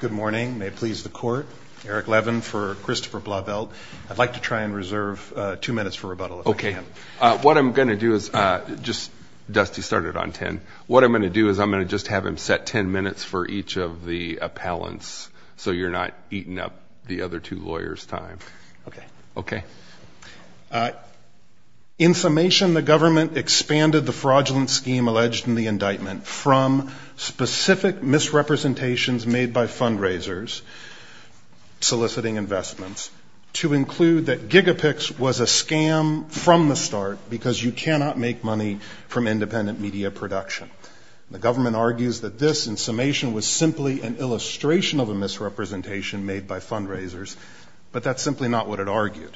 Good morning. May it please the court. Eric Levin for Christopher Blauvelt. I'd like to try and reserve two minutes for rebuttal. OK. What I'm going to do is just Dusty started on 10. What I'm going to do is I'm going to just have him set 10 minutes for each of the appellants. So you're not eating up the other two lawyers time. OK. OK. In summation, the government expanded the fraudulent scheme alleged in the indictment from specific misrepresentations made by fundraisers soliciting investments to include that Gigapix was a scam from the start because you cannot make money from independent media production. The government argues that this in summation was simply an illustration of a misrepresentation made by fundraisers. But that's simply not what it argued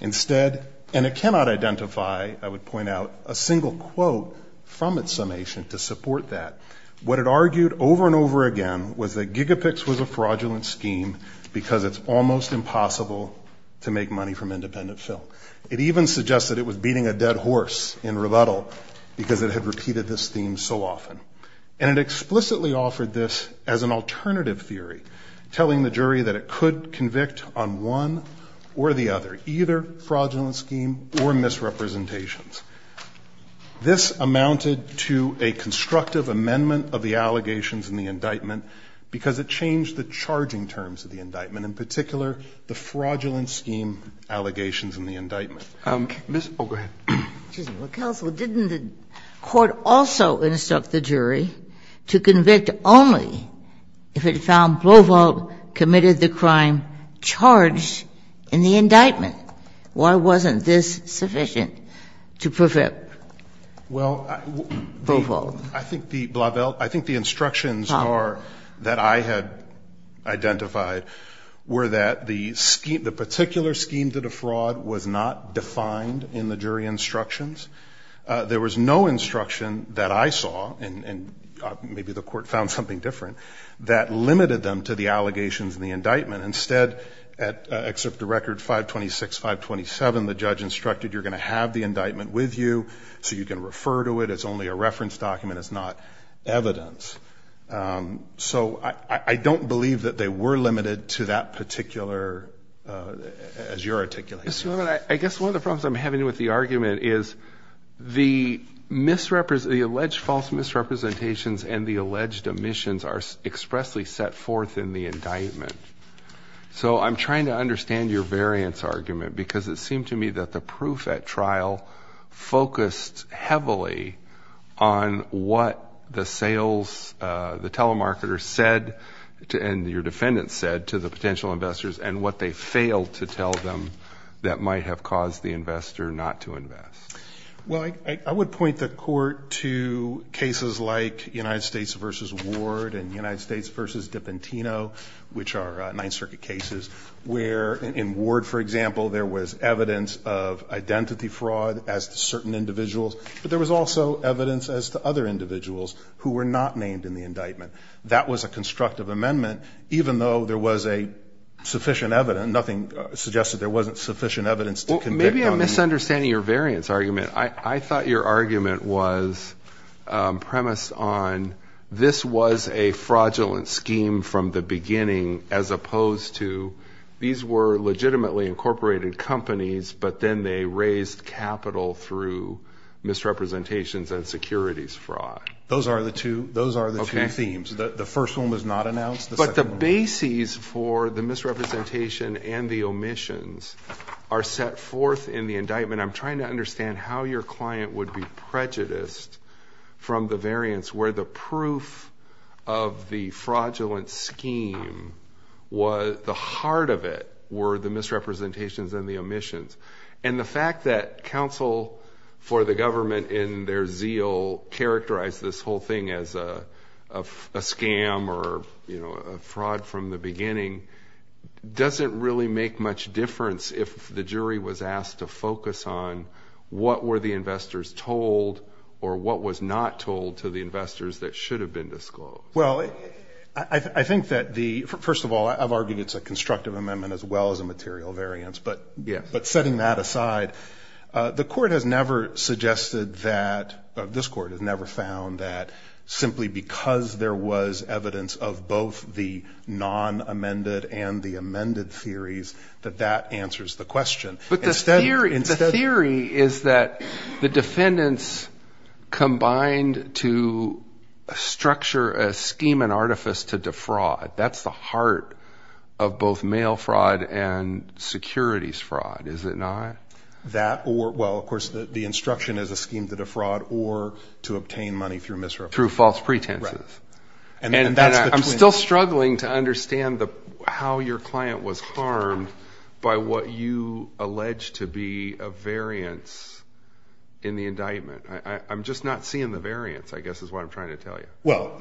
instead. And it cannot identify. I would point out a single quote from its summation to support that. What it argued over and over again was that Gigapix was a fraudulent scheme because it's almost impossible to make money from independent film. It even suggested it was beating a dead horse in rebuttal because it had repeated this theme so often. And it explicitly offered this as an alternative theory, telling the jury that it could convict on one or the other, either fraudulent scheme or misrepresentations. This amounted to a constructive amendment of the allegations in the indictment because it changed the charging terms of the indictment, in particular the fraudulent scheme allegations in the indictment. Go ahead. Didn't the court also instruct the jury to convict only if it found Blaveld committed the crime charged in the indictment? Why wasn't this sufficient to prevent Blaveld? I think the instructions that I had identified were that the particular scheme to defraud was not defined in the jury instructions. There was no instruction that I saw, and maybe the court found something different, that limited them to the allegations in the indictment. And instead, except the record 526, 527, the judge instructed you're going to have the indictment with you so you can refer to it as only a reference document, it's not evidence. So I don't believe that they were limited to that particular, as you're articulating. I guess one of the problems I'm having with the argument is the alleged false misrepresentations and the alleged omissions are expressly set forth in the indictment. So I'm trying to understand your variance argument, because it seemed to me that the proof at trial focused heavily on what the sales, the telemarketer said, and your defendant said to the potential investors, and what they failed to tell them that might have caused the investor not to invest. Well, I would point the court to cases like United States v. Ward and United States v. Dipentino, which are Ninth Circuit cases, where in Ward, for example, there was evidence of identity fraud as to certain individuals, but there was also evidence as to other individuals who were not named in the indictment. That was a constructive amendment, even though there was a sufficient evidence, nothing suggested there wasn't sufficient evidence. Maybe I'm misunderstanding your variance argument. I thought your argument was premised on this was a fraudulent scheme from the beginning, as opposed to these were legitimately incorporated companies, but then they raised capital through misrepresentations and securities fraud. Those are the two themes. The first one was not announced. But the basis for the misrepresentation and the omissions are set forth in the indictment. I'm trying to understand how your client would be prejudiced from the variance, where the proof of the fraudulent scheme, the heart of it, were the misrepresentations and the omissions. The fact that counsel for the government in their zeal characterized this whole thing as a scam or a fraud from the beginning doesn't really make much difference if the jury was asked to focus on what were the investors told or what was not told to the investors that should have been disclosed. Well, I think that the first of all, I've argued it's a constructive amendment as well as a material variance. But yeah, but setting that aside, the court has never suggested that this court has never found that simply because there was evidence of both the non amended and the amended theories that that answers the question. But the theory is that the defendants combined to structure a scheme and artifice to defraud. That's the heart of both mail fraud and securities fraud, is it not? That or well, of course, the instruction is a scheme to defraud or to obtain money through misrepresentations. Through false pretenses. And I'm still struggling to understand how your client was farmed by what you allege to be a variance in the indictment. I'm just not seeing the variance, I guess, is what I'm trying to tell you. Well,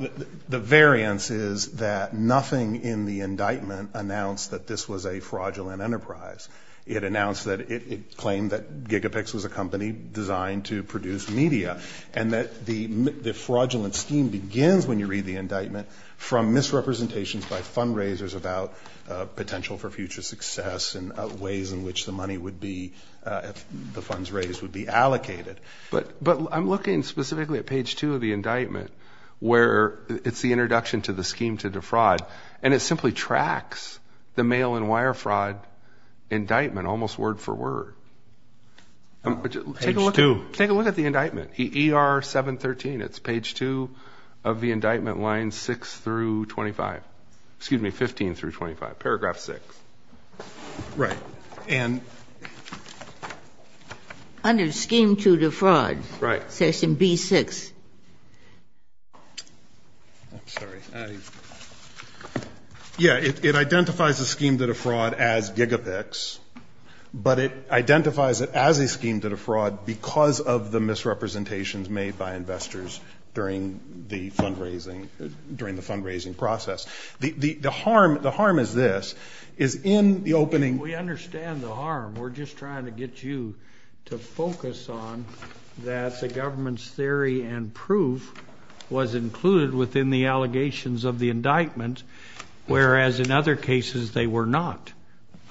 the variance is that nothing in the indictment announced that this was a fraudulent enterprise. It announced that it claimed that Gigapix was a company designed to produce media and that the fraudulent scheme begins when you read the indictment from misrepresentations by fundraisers about potential for future success and ways in which the money would be, the funds raised would be allocated. But I'm looking specifically at page two of the indictment where it's the introduction to the scheme to defraud. And it simply tracks the mail and wire fraud indictment almost word for word. Take a look at the indictment. E.R. 713. It's page two of the indictment, line six through 25. Excuse me, 15 through 25, paragraph six. Right. Under scheme to defraud. Right. Section B6. Yeah, it identifies a scheme to defraud as Gigapix, but it identifies it as a scheme to defraud because of the misrepresentations made by investors during the fundraising process. The harm is this. It's in the opening. We understand the harm. We're just trying to get you to focus on that the government's theory and proof was included within the allegations of the indictment, whereas in other cases they were not.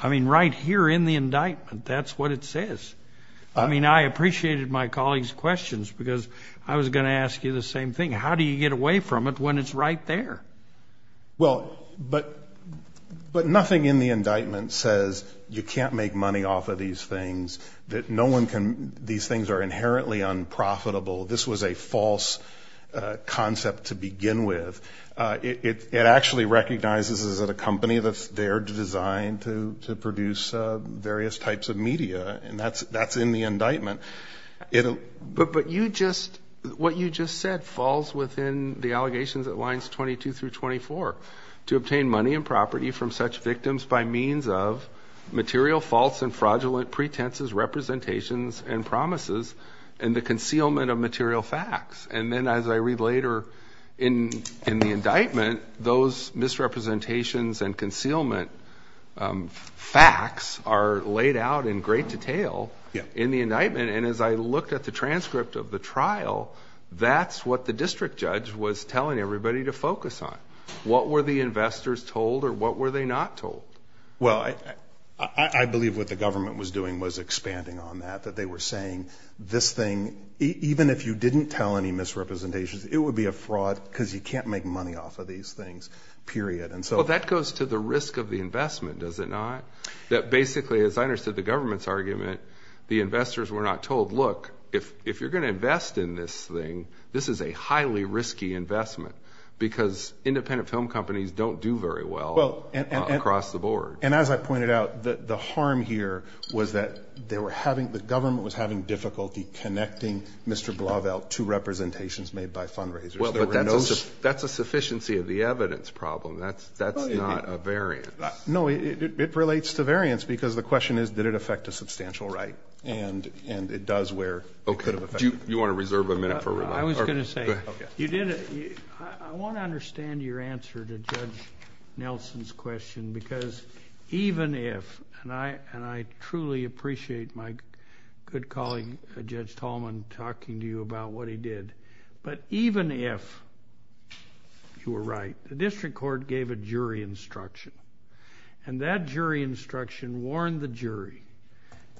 I mean, right here in the indictment, that's what it says. I mean, I appreciated my colleague's questions because I was going to ask you the same thing. How do you get away from it when it's right there? Well, but nothing in the indictment says you can't make money off of these things, that no one can. These things are inherently unprofitable. This was a false concept to begin with. It actually recognizes that a company that's there to design, to produce various types of media, and that's in the indictment. But what you just said falls within the allegations at lines 22 through 24. To obtain money and property from such victims by means of material false and fraudulent pretenses, representations, and promises and the concealment of material facts. And then as I read later in the indictment, those misrepresentations and concealment facts are laid out in great detail in the indictment. And as I looked at the transcript of the trial, that's what the district judge was telling everybody to focus on. What were the investors told or what were they not told? Well, I believe what the government was doing was expanding on that, that they were saying this thing, even if you didn't tell any misrepresentations, it would be a fraud because you can't make money off of these things, period. Well, that goes to the risk of the investment, does it not? That basically, as I understood the government's argument, the investors were not told, look, if you're going to invest in this thing, this is a highly risky investment, because independent film companies don't do very well across the board. And as I pointed out, the harm here was that the government was having difficulty connecting Mr. Blauvelt to representations made by fundraisers. Well, but that's a sufficiency of the evidence problem. That's not a variant. No, it relates to variants, because the question is, did it affect a substantial right? And it does where it could have affected it. Do you want to reserve a minute for remarks? I was going to say, I want to understand your answer to Judge Nelson's question, because even if, and I truly appreciate my good colleague, Judge Tallman, talking to you about what he did, but even if you were right, the district court gave a jury instruction. And that jury instruction warned the jury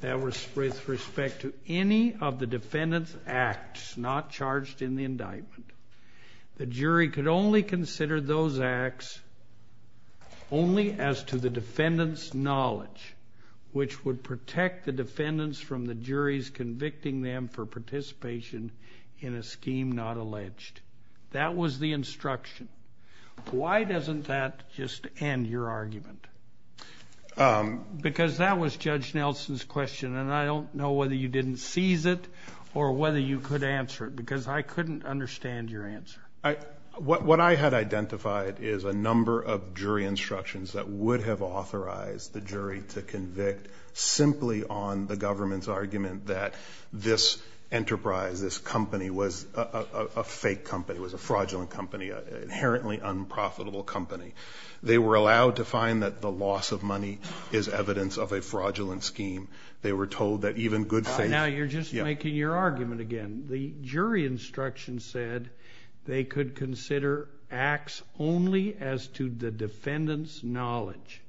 that with respect to any of the defendant's acts not charged in the indictment, the jury could only consider those acts only as to the defendant's knowledge, which would protect the defendants from the juries convicting them for participation in a scheme not alleged. That was the instruction. Why doesn't that just end your argument? Because that was Judge Nelson's question, and I don't know whether you didn't seize it or whether you could answer it, because I couldn't understand your answer. What I had identified is a number of jury instructions that would have authorized the jury to convict simply on the government's argument that this enterprise, this company, was a fake company, was a fraudulent company, an inherently unprofitable company. They were allowed to find that the loss of money is evidence of a fraudulent scheme. They were told that even good faith— Now you're just making your argument again. The jury instruction said they could consider acts only as to the defendant's knowledge,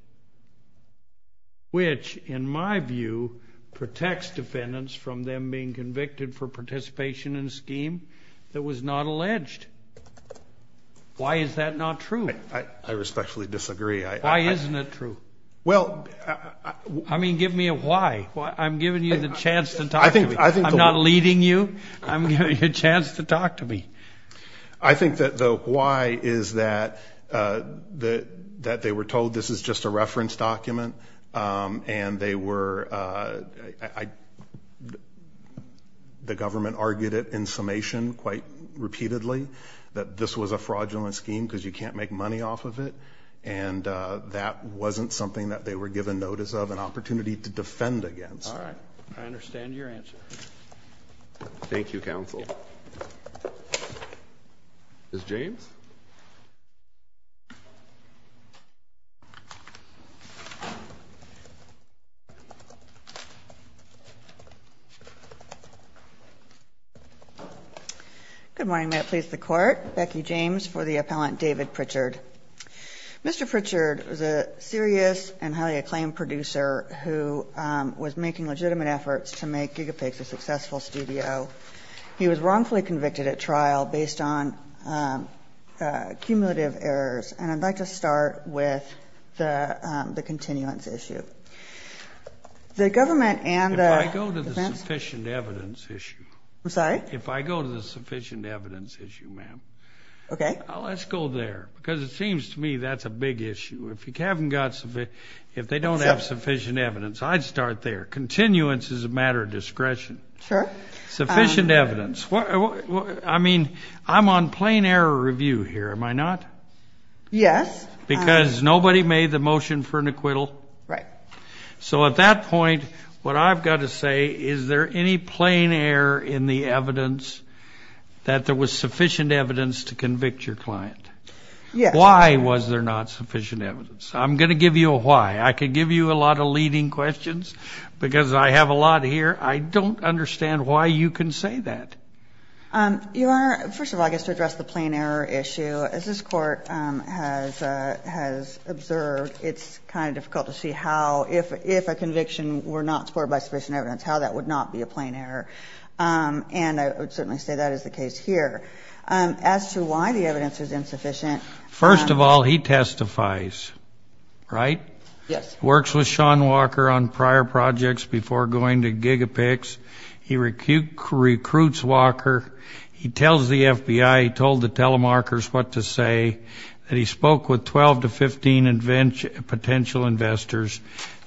which, in my view, protects defendants from them being convicted for participation in a scheme that was not alleged. Why is that not true? I respectfully disagree. Why isn't it true? I mean, give me a why. I'm giving you the chance to talk to me. I'm not leading you. I'm giving you a chance to talk to me. I think that the why is that they were told this is just a reference document, and they were—the government argued it in summation quite repeatedly, that this was a fraudulent scheme because you can't make money off of it, and that wasn't something that they were given notice of and opportunity to defend against. All right. I understand your answer. Thank you, counsel. Ms. James? Good morning. This is the court. Becky James for the appellant, David Pritchard. Mr. Pritchard is a serious and highly acclaimed producer who was making legitimate efforts to make GigaPix a successful studio. He was wrongfully convicted at trial based on cumulative errors, and I'd like to start with the continuance issue. The government and the— If I go to the sufficient evidence issue. I'm sorry? If I go to the sufficient evidence issue, ma'am. Okay. Let's go there, because it seems to me that's a big issue. If you haven't got sufficient—if they don't have sufficient evidence, I'd start there. Continuance is a matter of discretion. Sure. Sufficient evidence. I mean, I'm on plain error review here, am I not? Yes. Because nobody made the motion for an acquittal. Right. So at that point, what I've got to say, is there any plain error in the evidence that there was sufficient evidence to convict your client? Yes. Why was there not sufficient evidence? I'm going to give you a why. I could give you a lot of leading questions, because I have a lot here. I don't understand why you can say that. Your Honor, first of all, I guess to address the plain error issue, as this Court has observed, it's kind of difficult to see how, if a conviction were not supported by sufficient evidence, how that would not be a plain error. And I would certainly say that is the case here. As to why the evidence was insufficient— First of all, he testifies, right? Yes. Works with Sean Walker on prior projects before going to GigaPICS. He recruits Walker. He tells the FBI. He told the telemarkers what to say. And he spoke with 12 to 15 potential investors.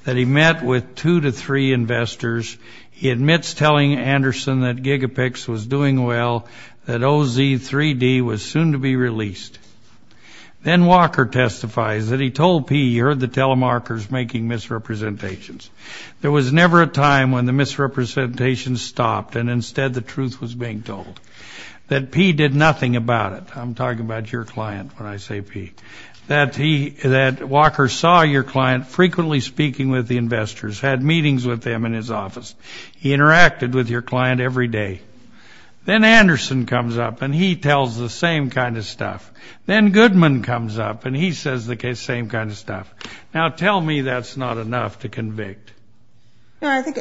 Then he met with two to three investors. He admits telling Anderson that GigaPICS was doing well, that OZ3D was soon to be released. Then Walker testifies that he told PE. He heard the telemarkers making misrepresentations. There was never a time when the misrepresentations stopped and instead the truth was being told. That PE did nothing about it. I'm talking about your client when I say PE. That Walker saw your client frequently speaking with the investors, had meetings with them in his office. He interacted with your client every day. Then Anderson comes up and he tells the same kind of stuff. Then Goodman comes up and he says the same kind of stuff. Now tell me that's not enough to convict. I think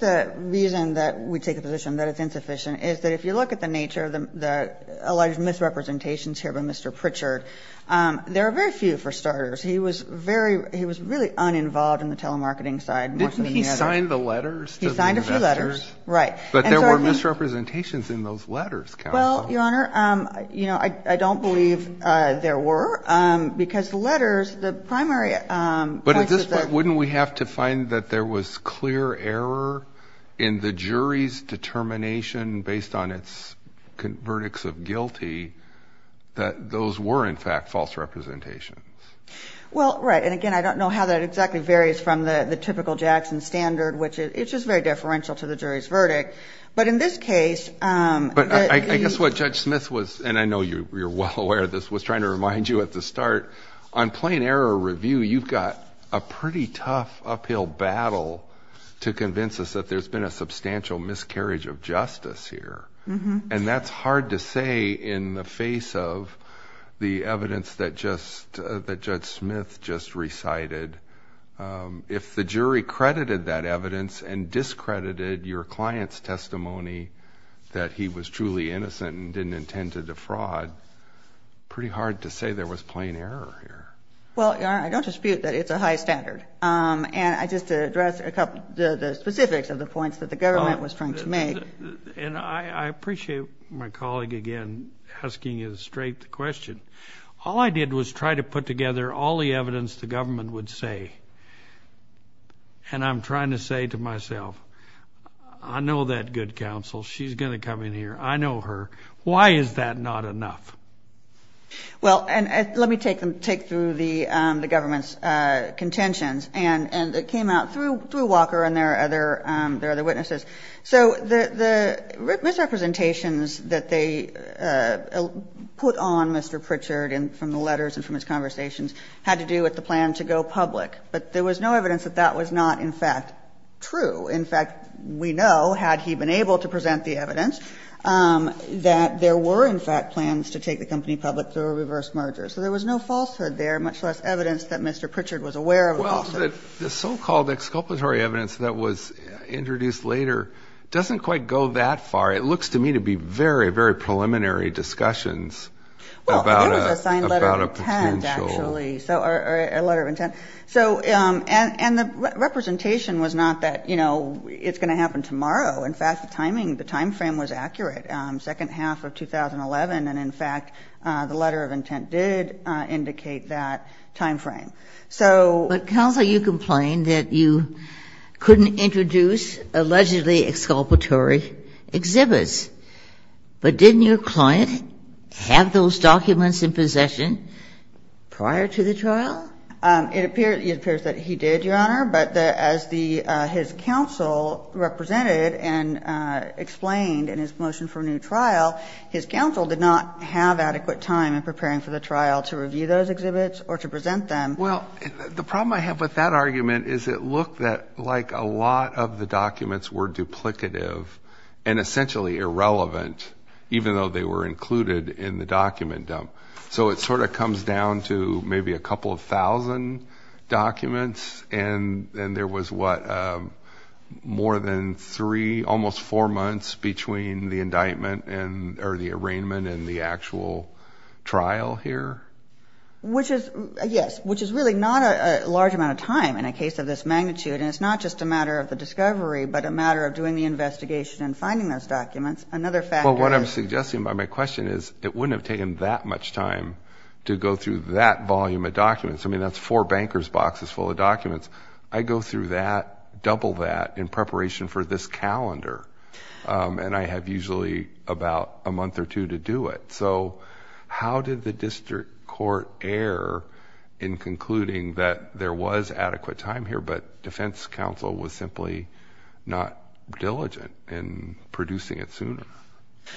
the reason that we take a position that it's insufficient is that if you look at the nature of the alleged misrepresentations here by Mr. Pritchard, there are very few for starters. He was really uninvolved in the telemarketing side. Didn't he sign the letters? He signed a few letters. Right. But there were misrepresentations in those letters, Carol. Well, Your Honor, I don't believe there were because the letters, the primary- But at this point, wouldn't we have to find that there was clear error in the jury's determination based on its verdicts of guilty that those were in fact false representations? Well, right. And again, I don't know how that exactly varies from the typical Jackson standard, which it's just very differential to the jury's verdict. But in this case- But I guess what Judge Smith was, and I know you're well aware of this, was trying to remind you at the start, on plain error review, you've got a pretty tough uphill battle to convince us that there's been a substantial miscarriage of justice here. And that's hard to say in the face of the evidence that Judge Smith just recited. If the jury credited that evidence and discredited your client's testimony that he was truly innocent and didn't intend to defraud, pretty hard to say there was plain error here. Well, Your Honor, I don't dispute that it's a high standard. And just to address the specifics of the points that the government was trying to make- And I appreciate my colleague again asking you the straight question. All I did was try to put together all the evidence the government would say. And I'm trying to say to myself, I know that good counsel. She's going to come in here. I know her. Why is that not enough? Well, let me take through the government's contentions. And it came out through Walker and their other witnesses. So the misrepresentations that they put on Mr. Pritchard from the letters and from his conversations had to do with the plan to go public. But there was no evidence that that was not, in fact, true. In fact, we know, had he been able to present the evidence, that there were, in fact, plans to take the company public through a reverse merger. So there was no falsehood there, much less evidence that Mr. Pritchard was aware of it. Well, the so-called exculpatory evidence that was introduced later doesn't quite go that far. It looks to me to be very, very preliminary discussions about a potential- Well, that was a signed letter of intent, actually, or a letter of intent. And the representation was not that, you know, it's going to happen tomorrow. In fact, the timing, the time frame was accurate, second half of 2011. And, in fact, the letter of intent did indicate that time frame. But, Counselor, you complained that you couldn't introduce allegedly exculpatory exhibits. But didn't your client have those documents in possession prior to the trial? It appears that he did, Your Honor, but as his counsel represented and explained in his motion for a new trial, his counsel did not have adequate time in preparing for the trial to review those exhibits or to present them. Well, the problem I have with that argument is it looked like a lot of the documents were duplicative and essentially irrelevant, even though they were included in the document dump. So it sort of comes down to maybe a couple of thousand documents, and there was, what, more than three, almost four months between the indictment or the arraignment and the actual trial here? Which is, yes, which is really not a large amount of time in a case of this magnitude. And it's not just a matter of the discovery, but a matter of doing the investigation and finding those documents. Well, what I'm suggesting by my question is it wouldn't have taken that much time to go through that volume of documents. I mean, that's four banker's boxes full of documents. I go through that, double that, in preparation for this calendar, and I have usually about a month or two to do it. So how did the district court err in concluding that there was adequate time here, but defense counsel was simply not diligent in producing it sooner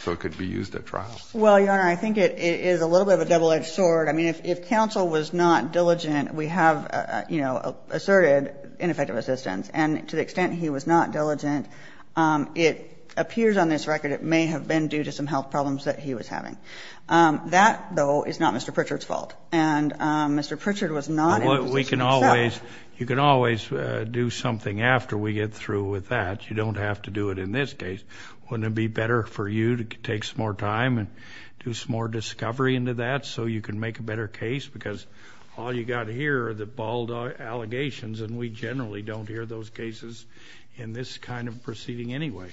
so it could be used at trial? Well, Your Honor, I think it is a little bit of a double-edged sword. I mean, if counsel was not diligent, we have, you know, asserted ineffective assistance. And to the extent he was not diligent, it appears on this record it may have been due to some health problems that he was having. That, though, is not Mr. Pritchard's fault. You can always do something after we get through with that. You don't have to do it in this case. Wouldn't it be better for you to take some more time and do some more discovery into that so you can make a better case? Because all you've got here are the bald allegations, and we generally don't hear those cases in this kind of proceeding anyway.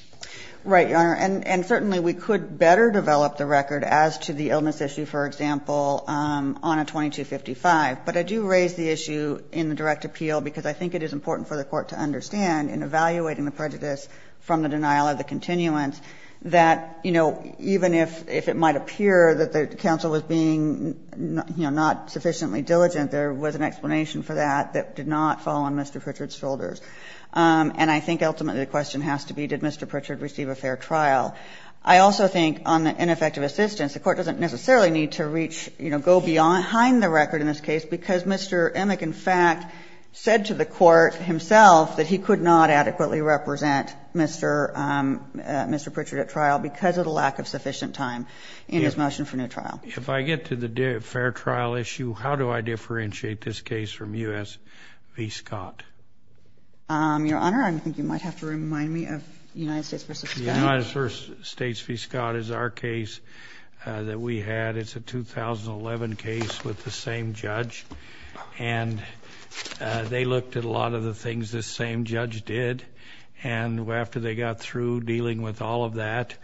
Right, Your Honor. And certainly we could better develop the record as to the illness issue, for example, on a 2255, but I do raise the issue in the direct appeal because I think it is important for the court to understand in evaluating the prejudice from the denial of the continuance that, you know, even if it might appear that the counsel was being, you know, not sufficiently diligent, there was an explanation for that that did not fall on Mr. Pritchard's shoulders. And I think ultimately the question has to be, did Mr. Pritchard receive a fair trial? I also think on the ineffective assistance, the court doesn't necessarily need to reach, you know, go beyond the record in this case because Mr. Emick, in fact, said to the court himself that he could not adequately represent Mr. Pritchard at trial because of the lack of sufficient time in his motion for new trial. If I get to the fair trial issue, how do I differentiate this case from U.S. v. Scott? Your Honor, I think you might have to remind me of United States v. Scott. United States v. Scott is our case that we had. It's a 2011 case with the same judge. And they looked at a lot of the things this same judge did, and after they got through dealing with all of that,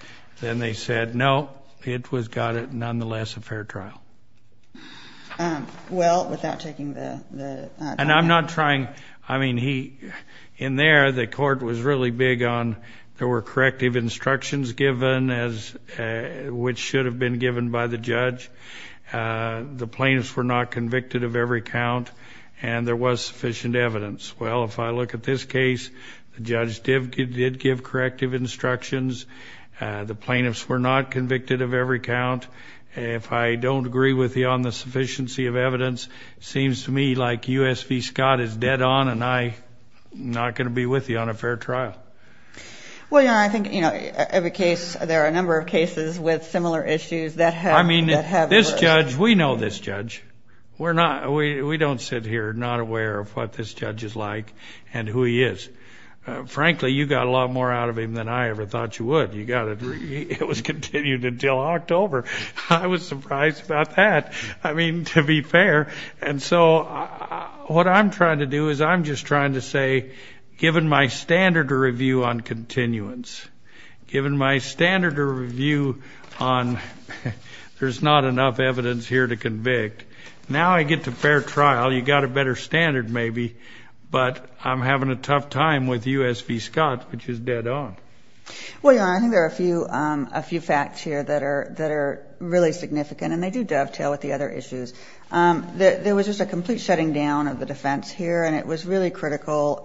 then they said, no, it was got it nonetheless a fair trial. Well, without taking the- And I'm not trying, I mean, he, in there the court was really big on, there were corrective instructions given as, which should have been given by the judge. The plaintiffs were not convicted of every count, and there was sufficient evidence. Well, if I look at this case, the judge did give corrective instructions. The plaintiffs were not convicted of every count. If I don't agree with you on the sufficiency of evidence, it seems to me like U.S. v. Scott is dead on, and I'm not going to be with you on a fair trial. Well, Your Honor, I can, you know, there are a number of cases with similar issues that have- I mean, this judge, we know this judge. We're not, we don't sit here not aware of what this judge is like and who he is. Frankly, you got a lot more out of him than I ever thought you would. You got a, it was continued until October. I was surprised about that. I mean, to be fair, and so what I'm trying to do is I'm just trying to say, given my standard of review on continuance, given my standard of review on, there's not enough evidence here to convict. Now I get to fair trial, you got a better standard maybe, but I'm having a tough time with U.S. v. Scott, which is dead on. Well, Your Honor, I think there are a few facts here that are really significant, and they do dovetail with the other issues. There was just a complete shutting down of the defense here, and it was really critical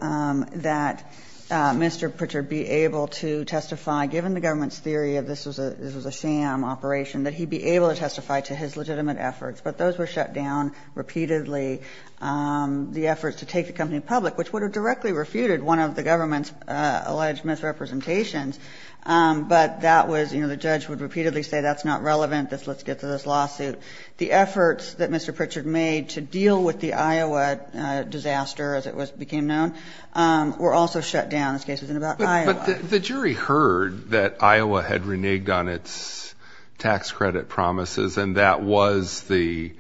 that Mr. Pritchard be able to testify, given the government's theory that this was a sham operation, that he be able to testify to his legitimate efforts. But those were shut down repeatedly. The efforts to take the company public, which would have directly refuted one of the government's alleged misrepresentations, but that was, you know, the judge would repeatedly say that's not relevant, let's get to this lawsuit. The efforts that Mr. Pritchard made to deal with the Iowa disaster, as it became known, were also shut down as cases in and about Iowa. But the jury heard that Iowa had reneged on its tax credit promises, and that was the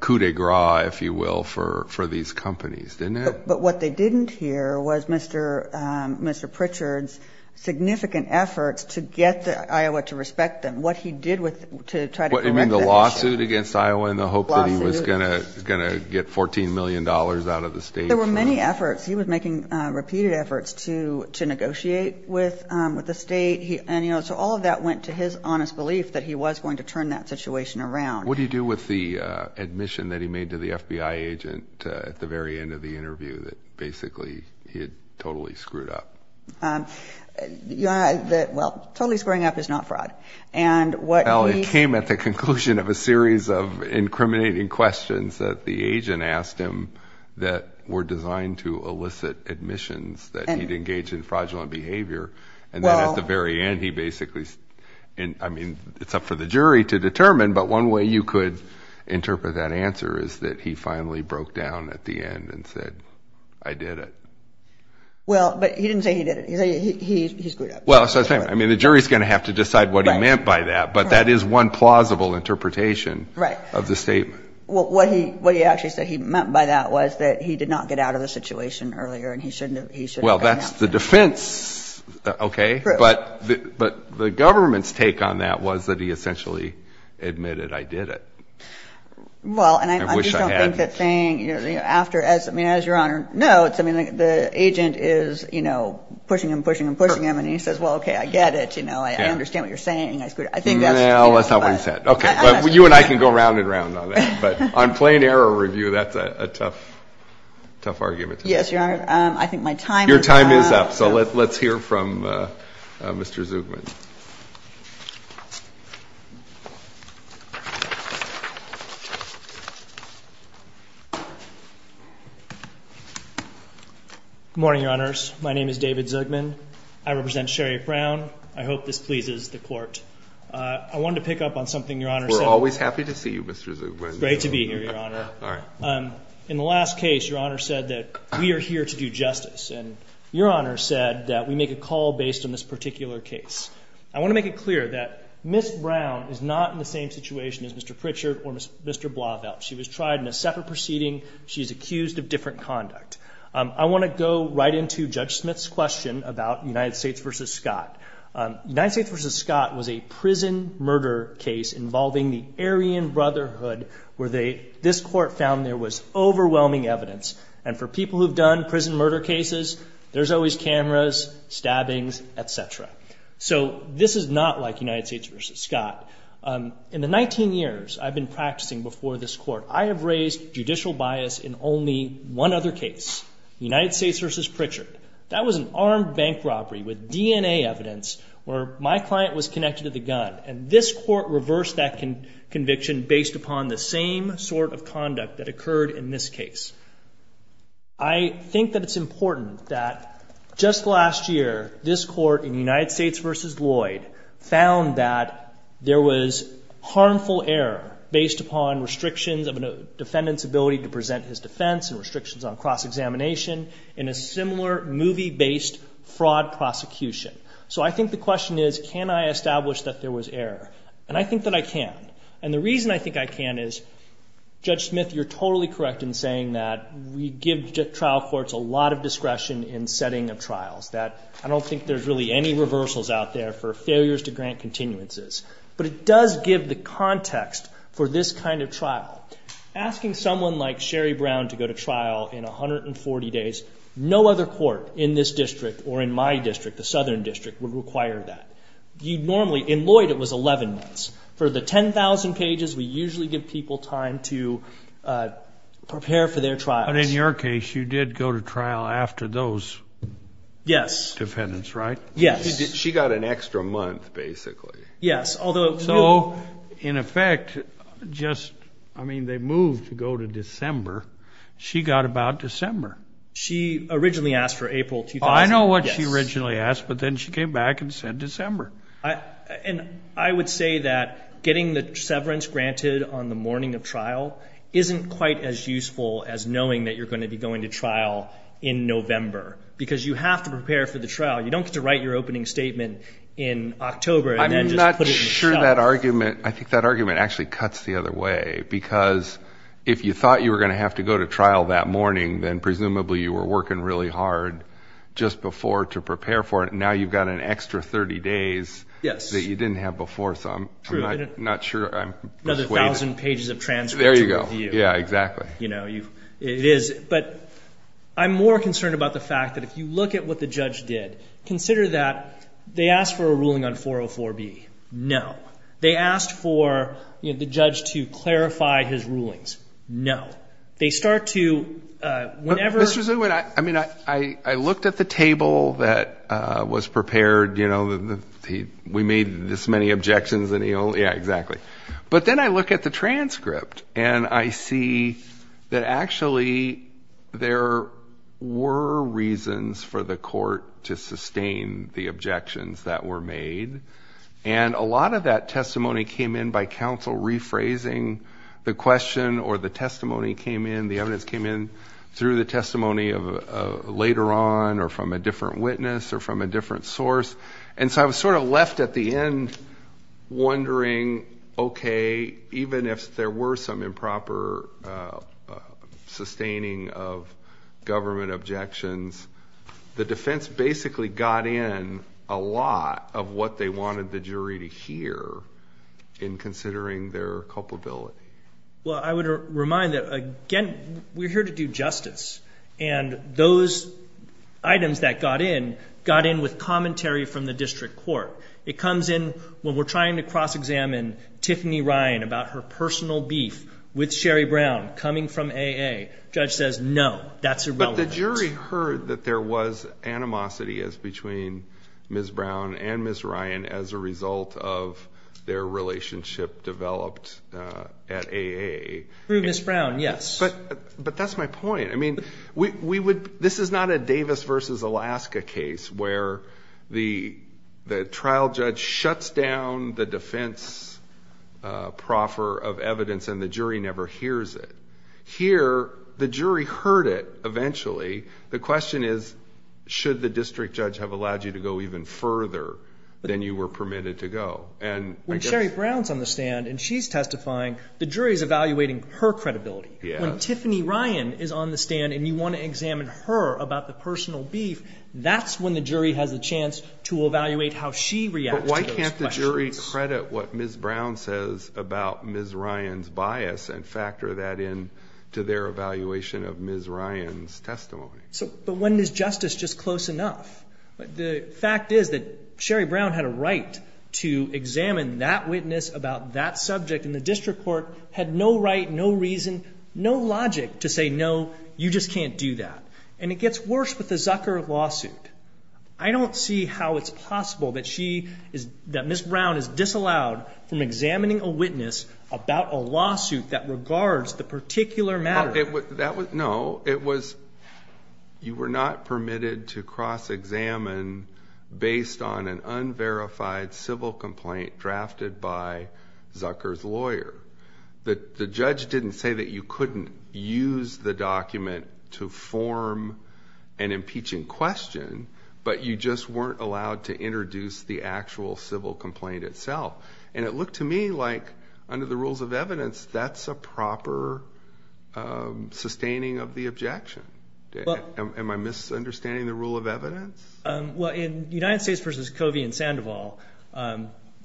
coup de grace, if you will, for these companies, didn't it? But what they didn't hear was Mr. Pritchard's significant effort to get Iowa to respect them. What he did to try to correct that issue. You mean the lawsuit against Iowa in the hope that he was going to get $14 million out of the state? There were many efforts. He was making repeated efforts to negotiate with the state. So all of that went to his honest belief that he was going to turn that situation around. What do you do with the admission that he made to the FBI agent at the very end of the interview that basically he had totally screwed up? Well, totally screwing up is not fraud. Well, it came at the conclusion of a series of incriminating questions that the agent asked him that were designed to elicit admissions, that he'd engaged in fraudulent behavior. And then at the very end, he basically, I mean, it's up for the jury to determine, but one way you could interpret that answer is that he finally broke down at the end and said, I did it. Well, but he didn't say he did it. He screwed up. Well, I mean, the jury's going to have to decide what he meant by that, but that is one plausible interpretation of the statement. Well, what he actually said he meant by that was that he did not get out of the situation earlier and he shouldn't have done that. Well, that's the defense, okay? True. But the government's take on that was that he essentially admitted, I did it. Well, and I just don't think that saying, you know, after, I mean, as Your Honor notes, I mean, the agent is, you know, pushing him, pushing him, pushing him, and he says, well, okay, I get it. You know, I understand what you're saying. No, that's not what he said. Okay. You and I can go round and round on that, but on plain error review, that's a tough argument to make. I think my time is up. Your time is up. So let's hear from Mr. Zugman. Good morning, Your Honors. My name is David Zugman. I represent Sherry Brown. I hope this pleases the Court. I wanted to pick up on something Your Honor said. We're always happy to see you, Mr. Zugman. Great to be here, Your Honor. All right. In the last case, Your Honor said that we are here to do justice, and Your Honor said that we make a call based on this particular case. I want to make it clear that Ms. Brown is not in the same situation as Mr. Pritchard or Mr. Blauvelt. She was tried in a separate proceeding. She's accused of different conduct. I want to go right into Judge Smith's question about United States v. Scott. United States v. Scott was a prison murder case involving the Aryan Brotherhood, where this Court found there was overwhelming evidence. And for people who have done prison murder cases, there's always cameras, stabbings, et cetera. So this is not like United States v. Scott. In the 19 years I've been practicing before this Court, I have raised judicial bias in only one other case, United States v. Pritchard. That was an armed bank robbery with DNA evidence where my client was connected to the gun. And this Court reversed that conviction based upon the same sort of conduct that occurred in this case. I think that it's important that just last year, this Court in United States v. Lloyd found that there was harmful error based upon restrictions of a defendant's ability to present his defense and restrictions on cross-examination in a similar movie-based fraud prosecution. So I think the question is, can I establish that there was error? And I think that I can. And the reason I think I can is, Judge Smith, you're totally correct in saying that we give trial courts a lot of discretion in setting a trial. I don't think there's really any reversals out there for failures to grant continuances. But it does give the context for this kind of trial. Asking someone like Sherry Brown to go to trial in 140 days, no other court in this district or in my district, the Southern District, would require that. In Lloyd, it was 11 months. For the 10,000 pages, we usually give people time to prepare for their trial. But in your case, you did go to trial after those defendants, right? Yes. She got an extra month, basically. Yes. So, in effect, just, I mean, they moved to go to December. She got about December. She originally asked for April. I know what she originally asked, but then she came back and said December. And I would say that getting the severance granted on the morning of trial isn't quite as useful as knowing that you're going to be going to trial in November. Because you have to prepare for the trial. You don't get to write your opening statement in October. I'm not sure that argument, I think that argument actually cuts the other way. Because if you thought you were going to have to go to trial that morning, then presumably you were working really hard just before to prepare for it. And now you've got an extra 30 days that you didn't have before. So I'm not sure. Another 1,000 pages of transcripts. There you go. Yeah, exactly. It is. But I'm more concerned about the fact that if you look at what the judge did, consider that they asked for a ruling on 404B. No. They asked for the judge to clarify his rulings. No. They start to, whenever. I looked at the table that was prepared. We made this many objections. Yeah, exactly. But then I look at the transcript and I see that actually there were reasons for the court to sustain the objections that were made. And a lot of that testimony came in by counsel rephrasing the question or the testimony came in. The evidence came in through the testimony later on or from a different witness or from a different source. And so I was sort of left at the end wondering, okay, even if there were some improper sustaining of government objections, the defense basically got in a lot of what they wanted the jury to hear in considering their culpability. Well, I would remind that, again, we're here to do justice. And those items that got in got in with commentary from the district court. It comes in when we're trying to cross-examine Tiffany Ryan about her personal beef with Sherry Brown coming from AA. The judge says, no, that's irrelevant. But the jury heard that there was animosity between Ms. Brown and Ms. Ryan as a result of their relationship developed at AA. Through Ms. Brown, yes. But that's my point. I mean, this is not a Davis versus Alaska case where the trial judge shuts down the defense proffer of evidence and the jury never hears it. Here, the jury heard it eventually. The question is, should the district judge have allowed you to go even further than you were permitted to go? When Sherry Brown is on the stand and she's testifying, the jury is evaluating her credibility. When Tiffany Ryan is on the stand and you want to examine her about the personal beef, that's when the jury has a chance to evaluate how she reacted to those questions. But why can't the jury credit what Ms. Brown says about Ms. Ryan's bias and factor that into their evaluation of Ms. Ryan's testimony? But when is justice just close enough? The fact is that Sherry Brown had a right to examine that witness about that subject and the district court had no right, no reason, no logic to say, no, you just can't do that. And it gets worse with the Zucker lawsuit. I don't see how it's possible that Ms. Brown is disallowed from examining a witness about a lawsuit that regards the particular matter. No, you were not permitted to cross-examine based on an unverified civil complaint drafted by Zucker's lawyer. The judge didn't say that you couldn't use the document to form an impeaching question, but you just weren't allowed to introduce the actual civil complaint itself. And it looked to me like, under the rules of evidence, that's a proper sustaining of the objection. Am I misunderstanding the rule of evidence? Well, in United States v. Covey and Sandoval,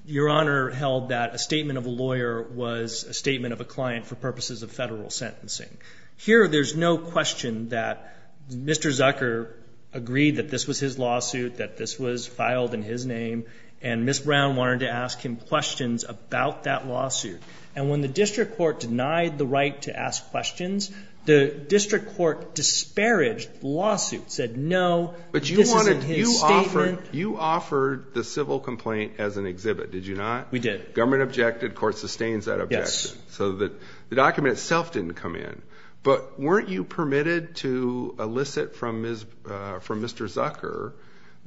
Your Honor held that a statement of a lawyer was a statement of a client for purposes of federal sentencing. Here there's no question that Mr. Zucker agreed that this was his lawsuit, that this was filed in his name, and Ms. Brown wanted to ask him questions about that lawsuit. And when the district court denied the right to ask questions, the district court disparaged the lawsuit, said no. But you offered the civil complaint as an exhibit, did you not? We did. Government objected, court sustains that objection. So the document itself didn't come in. But weren't you permitted to elicit from Mr. Zucker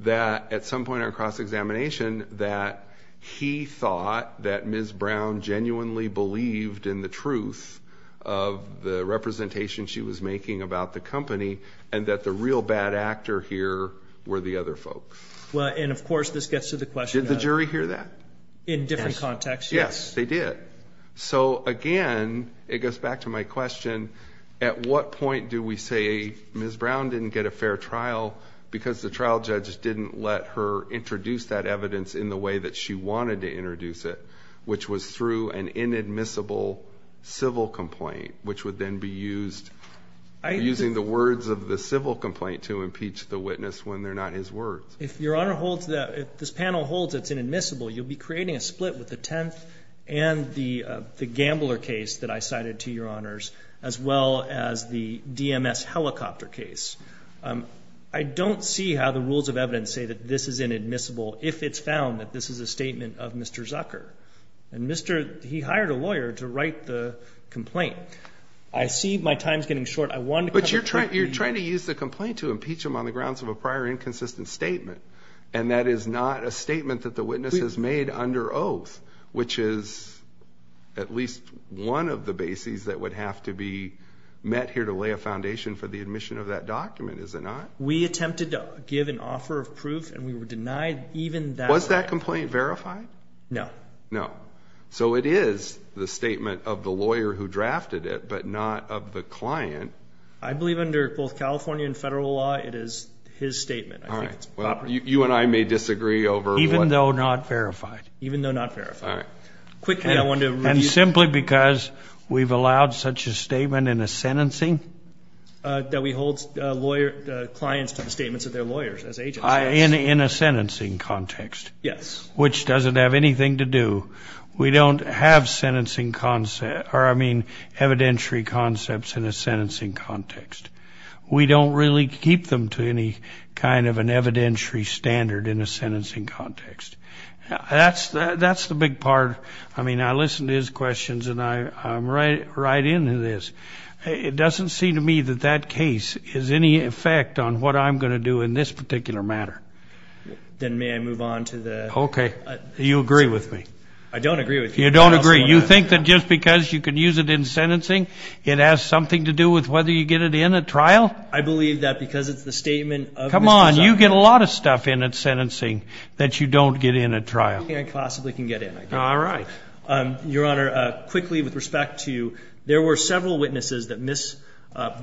that at some point on cross-examination that he thought that Ms. Brown genuinely believed in the truth of the representation she was making about the company and that the real bad actor here were the other folks? Well, and of course this gets to the question of- Did the jury hear that? In different contexts, yes. Yes, they did. Okay. So again, it goes back to my question, at what point do we say Ms. Brown didn't get a fair trial because the trial judge didn't let her introduce that evidence in the way that she wanted to introduce it, which was through an inadmissible civil complaint, which would then be used using the words of the civil complaint to impeach the witness when they're not his word? If this panel holds it's inadmissible, you'll be creating a split with the Tenth and the Gambler case that I cited to your honors, as well as the DMS helicopter case. I don't see how the rules of evidence say that this is inadmissible if it's found that this is a statement of Mr. Zucker. He hired a lawyer to write the complaint. I see my time's getting short. But you're trying to use the complaint to impeach him on the grounds of a prior inconsistent statement, and that is not a statement that the witness has made under oath, which is at least one of the bases that would have to be met here to lay a foundation for the admission of that document. Is it not? We attempted to give an offer of proof, and we were denied even that. Was that complaint verified? No. No. So it is the statement of the lawyer who drafted it, but not of the client. I believe under both California and federal law, it is his statement. All right. Well, you and I may disagree over what – Even though not verified. Even though not verified. All right. Quickly, I wanted to – And simply because we've allowed such a statement in a sentencing – That we hold clients to statements of their lawyers as agents. In a sentencing context. Yes. Which doesn't have anything to do – we don't have sentencing – or, I mean, evidentiary concepts in a sentencing context. We don't really keep them to any kind of an evidentiary standard in a sentencing context. That's the big part. I mean, I listen to his questions, and I'm right in to this. It doesn't seem to me that that case has any effect on what I'm going to do in this particular matter. Then may I move on to the – Okay. Do you agree with me? I don't agree with you. You don't agree. You think that just because you can use it in sentencing, it has something to do with whether you get it in a trial? I believe that because it's the statement of – Come on. You get a lot of stuff in a sentencing that you don't get in a trial. I think I possibly can get in a trial. All right. Your Honor, quickly, with respect to – there were several witnesses that Ms.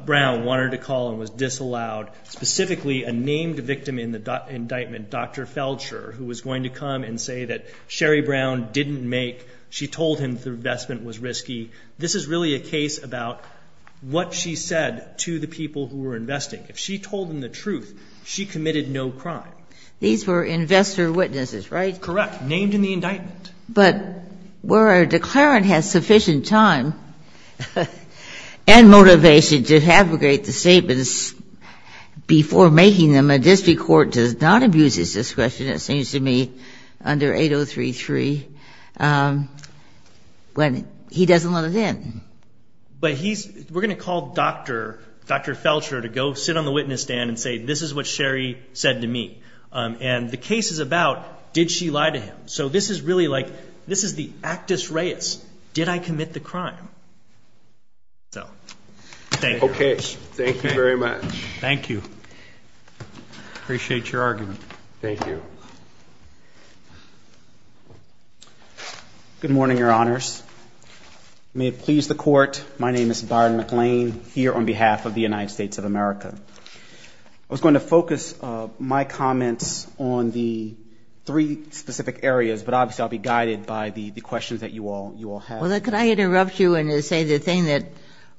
Brown wanted to call and was disallowed. Specifically, a named victim in the indictment, Dr. Feldscher, who was going to come and say that Sherry Brown didn't make – she told him the investment was risky. This is really a case about what she said to the people who were investing. If she told them the truth, she committed no crime. These were investor witnesses, right? Correct. Named in the indictment. But where a declarant has sufficient time and motivation to abrogate the statements before making them, a district court does not abuse this discretion, it seems to me, under 8033 when he doesn't let it in. But he's – we're going to call Dr. Feldscher to go sit on the witness stand and say, this is what Sherry said to me, and the case is about, did she lie to him? So this is really like – this is the actus reus. Did I commit the crime? So, thank you. Okay. Thank you very much. Thank you. Appreciate your argument. Thank you. Good morning, Your Honors. May it please the Court, my name is Byron McLean, here on behalf of the United States of America. I was going to focus my comments on the three specific areas, but obviously I'll be guided by the questions that you all have. Well, can I interrupt you and say the thing that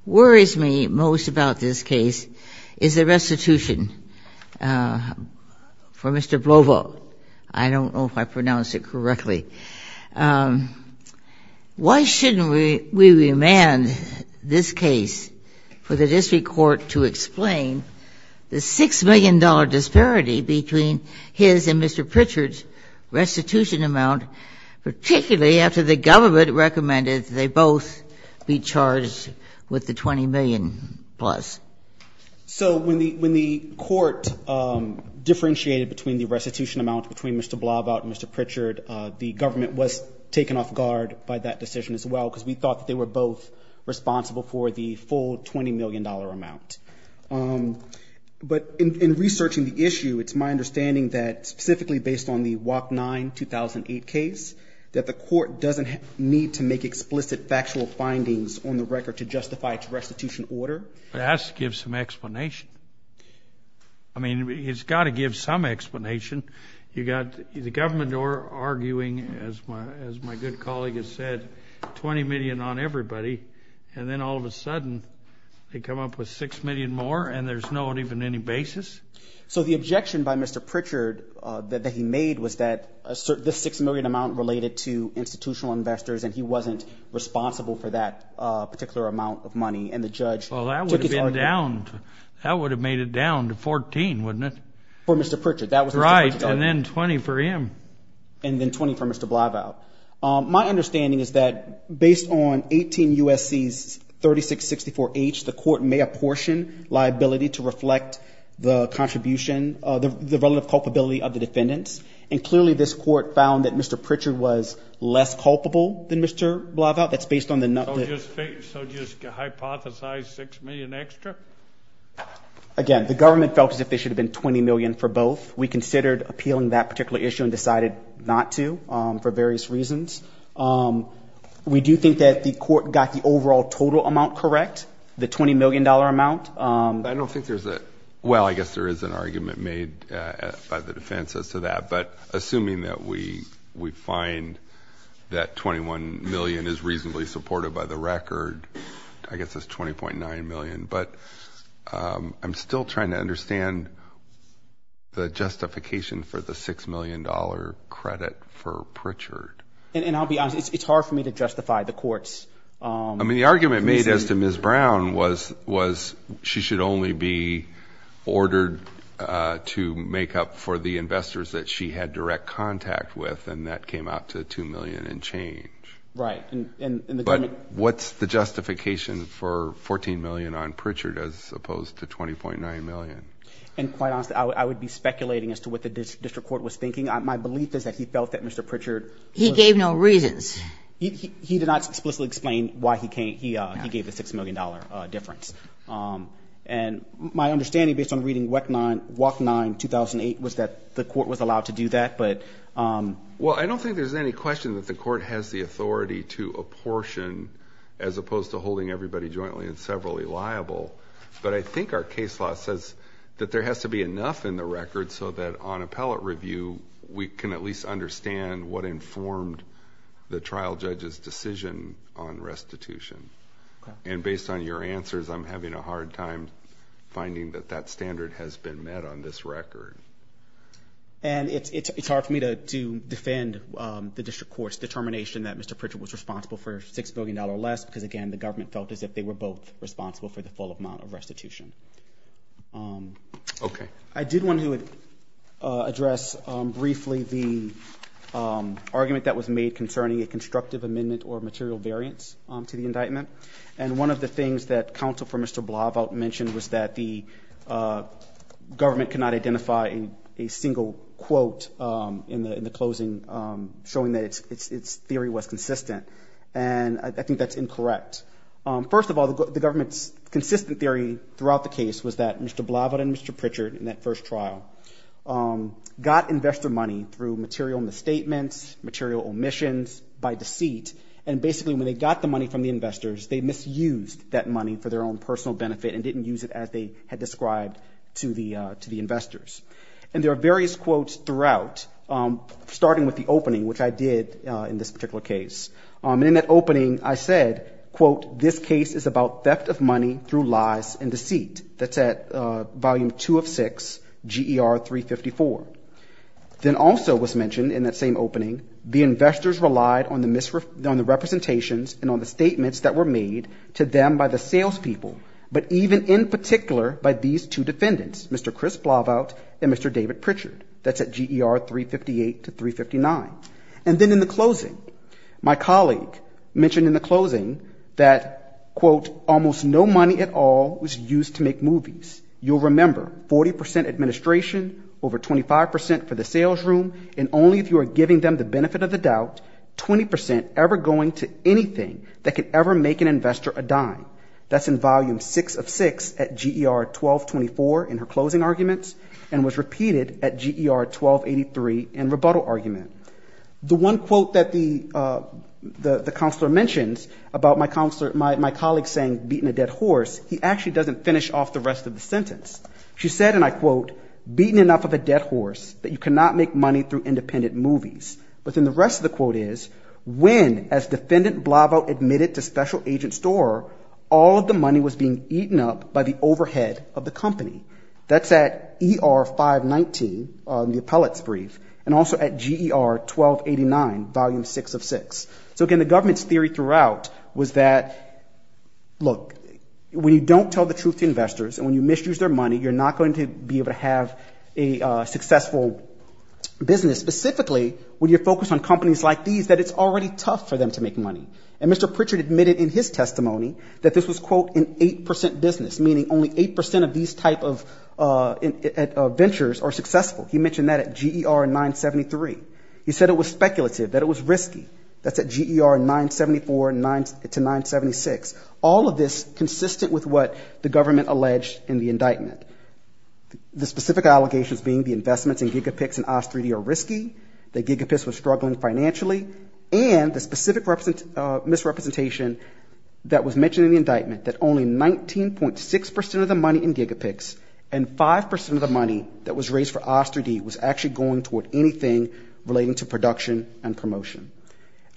worries me most about this case is the restitution for Mr. Blovo. I don't know if I pronounced it correctly. Why shouldn't we remand this case for the district court to explain the $6 million disparity between his and Mr. Pritchard's restitution amount, particularly after the government recommended they both be charged with the $20 million plus? So when the court differentiated between the restitution amounts between Mr. Blovo and Mr. Pritchard, the government was taken off guard by that decision as well, because we thought they were both responsible for the full $20 million amount. But in researching the issue, it's my understanding that specifically based on the WAP 9 2008 case, that the court doesn't need to make explicit factual findings on the record to justify its restitution order. That gives some explanation. I mean, it's got to give some explanation. You've got the government arguing, as my good colleague has said, $20 million on everybody, and then all of a sudden they come up with $6 million more, and there's not even any basis. So the objection by Mr. Pritchard that he made was that this $6 million amount related to institutional investors, and he wasn't responsible for that particular amount of money, and the judge took it down. Well, that would have made it down to $14 million, wouldn't it? For Mr. Pritchard. Right, and then $20 million for him. And then $20 million for Mr. Blovo. My understanding is that based on 18 U.S.C.'s 3664H, the court may apportion liability to reflect the contribution, the relative culpability of the defendants, and clearly this court found that Mr. Pritchard was less culpable than Mr. Blovo. So just hypothesize $6 million extra? Again, the government felt as if there should have been $20 million for both. We considered appealing that particular issue and decided not to for various reasons. We do think that the court got the overall total amount correct, the $20 million amount. I don't think there's a – well, I guess there is an argument made by the defense as to that, but assuming that we find that $21 million is reasonably supported by the record, I guess that's $20.9 million. But I'm still trying to understand the justification for the $6 million credit for Pritchard. And I'll be honest, it's hard for me to justify the court's – I mean, the argument made as to Ms. Brown was she should only be ordered to make up for the investors that she had direct contact with, and that came out to $2 million and change. Right. But what's the justification for $14 million on Pritchard as opposed to $20.9 million? And quite honestly, I would be speculating as to what the district court was thinking. My belief is that he felt that Mr. Pritchard – He gave no reason. He did not explicitly explain why he gave the $6 million difference. And my understanding based on reading WAC 9 2008 was that the court was allowed to do that, but – Well, I don't think there's any question that the court has the authority to apportion as opposed to holding everybody jointly and severally liable. But I think our case law says that there has to be enough in the record so that on appellate review, we can at least understand what informed the trial judge's decision on restitution. And based on your answers, I'm having a hard time finding that that standard has been met on this record. And it's hard for me to defend the district court's determination that Mr. Pritchard was responsible for $6 billion less because, again, the government felt as if they were both responsible for the full amount of restitution. Okay. I did want to address briefly the argument that was made concerning a constructive amendment or material variance to the indictment. And one of the things that counsel for Mr. Blavat mentioned was that the government cannot identify a single quote in the closing showing that its theory was consistent. And I think that's incorrect. First of all, the government's consistent theory throughout the case was that Mr. Blavat and Mr. Pritchard in that first trial got investor money through material misstatements, material omissions, by deceit. And basically, when they got the money from the investors, they misused that money for their own personal benefit and didn't use it as they had described to the investors. And there are various quotes throughout, starting with the opening, which I did in this particular case. In that opening, I said, quote, this case is about theft of money through lies and deceit. That's at volume 2 of 6, GER 354. Then also was mentioned in that same opening, the investors relied on the representations and on the statements that were made to them by the salespeople, but even in particular by these two defendants, Mr. Chris Blavat and Mr. David Pritchard. That's at GER 358 to 359. And then in the closing, my colleague mentioned in the closing that, quote, almost no money at all was used to make movies. You'll remember, 40% administration, over 25% for the salesroom, and only if you are giving them the benefit of the doubt, 20% ever going to anything that could ever make an investor a dime. That's in volume 6 of 6 at GER 1224 in her closing arguments and was repeated at GER 1283 in rebuttal argument. The one quote that the counselor mentions about my colleague saying beating a dead horse, he actually doesn't finish off the rest of the sentence. She said, and I quote, beaten enough of a dead horse that you cannot make money through independent movies. But then the rest of the quote is, when, as Defendant Blavat admitted to Special Agent Storer, all of the money was being eaten up by the overhead of the company. That's at ER 519, the appellate's brief, and also at GER 1289, volume 6 of 6. So again, the government's theory throughout was that, look, when you don't tell the truth to investors and when you misuse their money, you're not going to be able to have a successful business. Specifically, when you focus on companies like these, that it's already tough for them to make money. And Mr. Pritchard admitted in his testimony that this was, quote, an 8% business, meaning only 8% of these type of ventures are successful. He mentioned that at GER 973. He said it was speculative, that it was risky. That's at GER 974 to 976. All of this consistent with what the government alleged in the indictment. The specific allegations being the investments in GigaPix and OsterD are risky, that GigaPix was struggling financially, and the specific misrepresentation that was mentioned in the indictment, that only 19.6% of the money in GigaPix and 5% of the money that was raised for OsterD was actually going toward anything relating to production and promotion.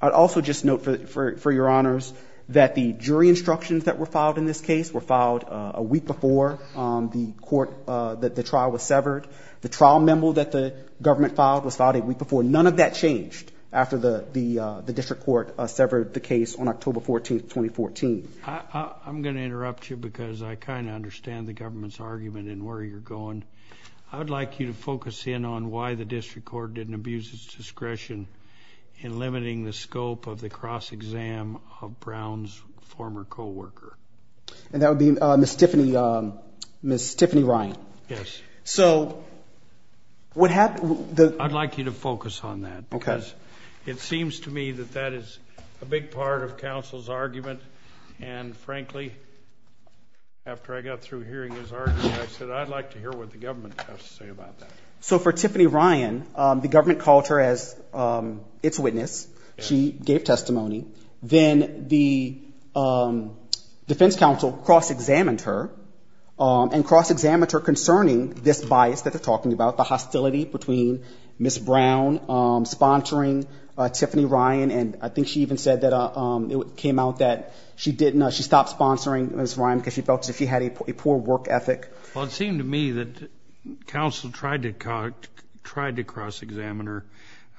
I'd also just note, for your honors, that the jury instructions that were filed in this case were filed a week before the trial was severed. The trial memo that the government filed was filed a week before. None of that changed after the district court severed the case on October 14, 2014. I'm going to interrupt you because I kind of understand the government's argument and where you're going. I'd like you to focus in on why the district court didn't abuse its discretion in limiting the scope of the cross-exam of Brown's former co-worker. And that would be Ms. Tiffany Ryan. Yes. I'd like you to focus on that because it seems to me that that is a big part of counsel's argument, and frankly, after I got through hearing his argument, I said, I'd like to hear what the government has to say about that. So for Tiffany Ryan, the government called her as its witness. She gave testimony. Then the defense counsel cross-examined her and cross-examined her concerning this bias that they're talking about, the hostility between Ms. Brown sponsoring Tiffany Ryan, and I think she even said that it came out that she stopped sponsoring Ms. Ryan because she felt that she had a poor work ethic. Well, it seemed to me that counsel tried to cross-examine her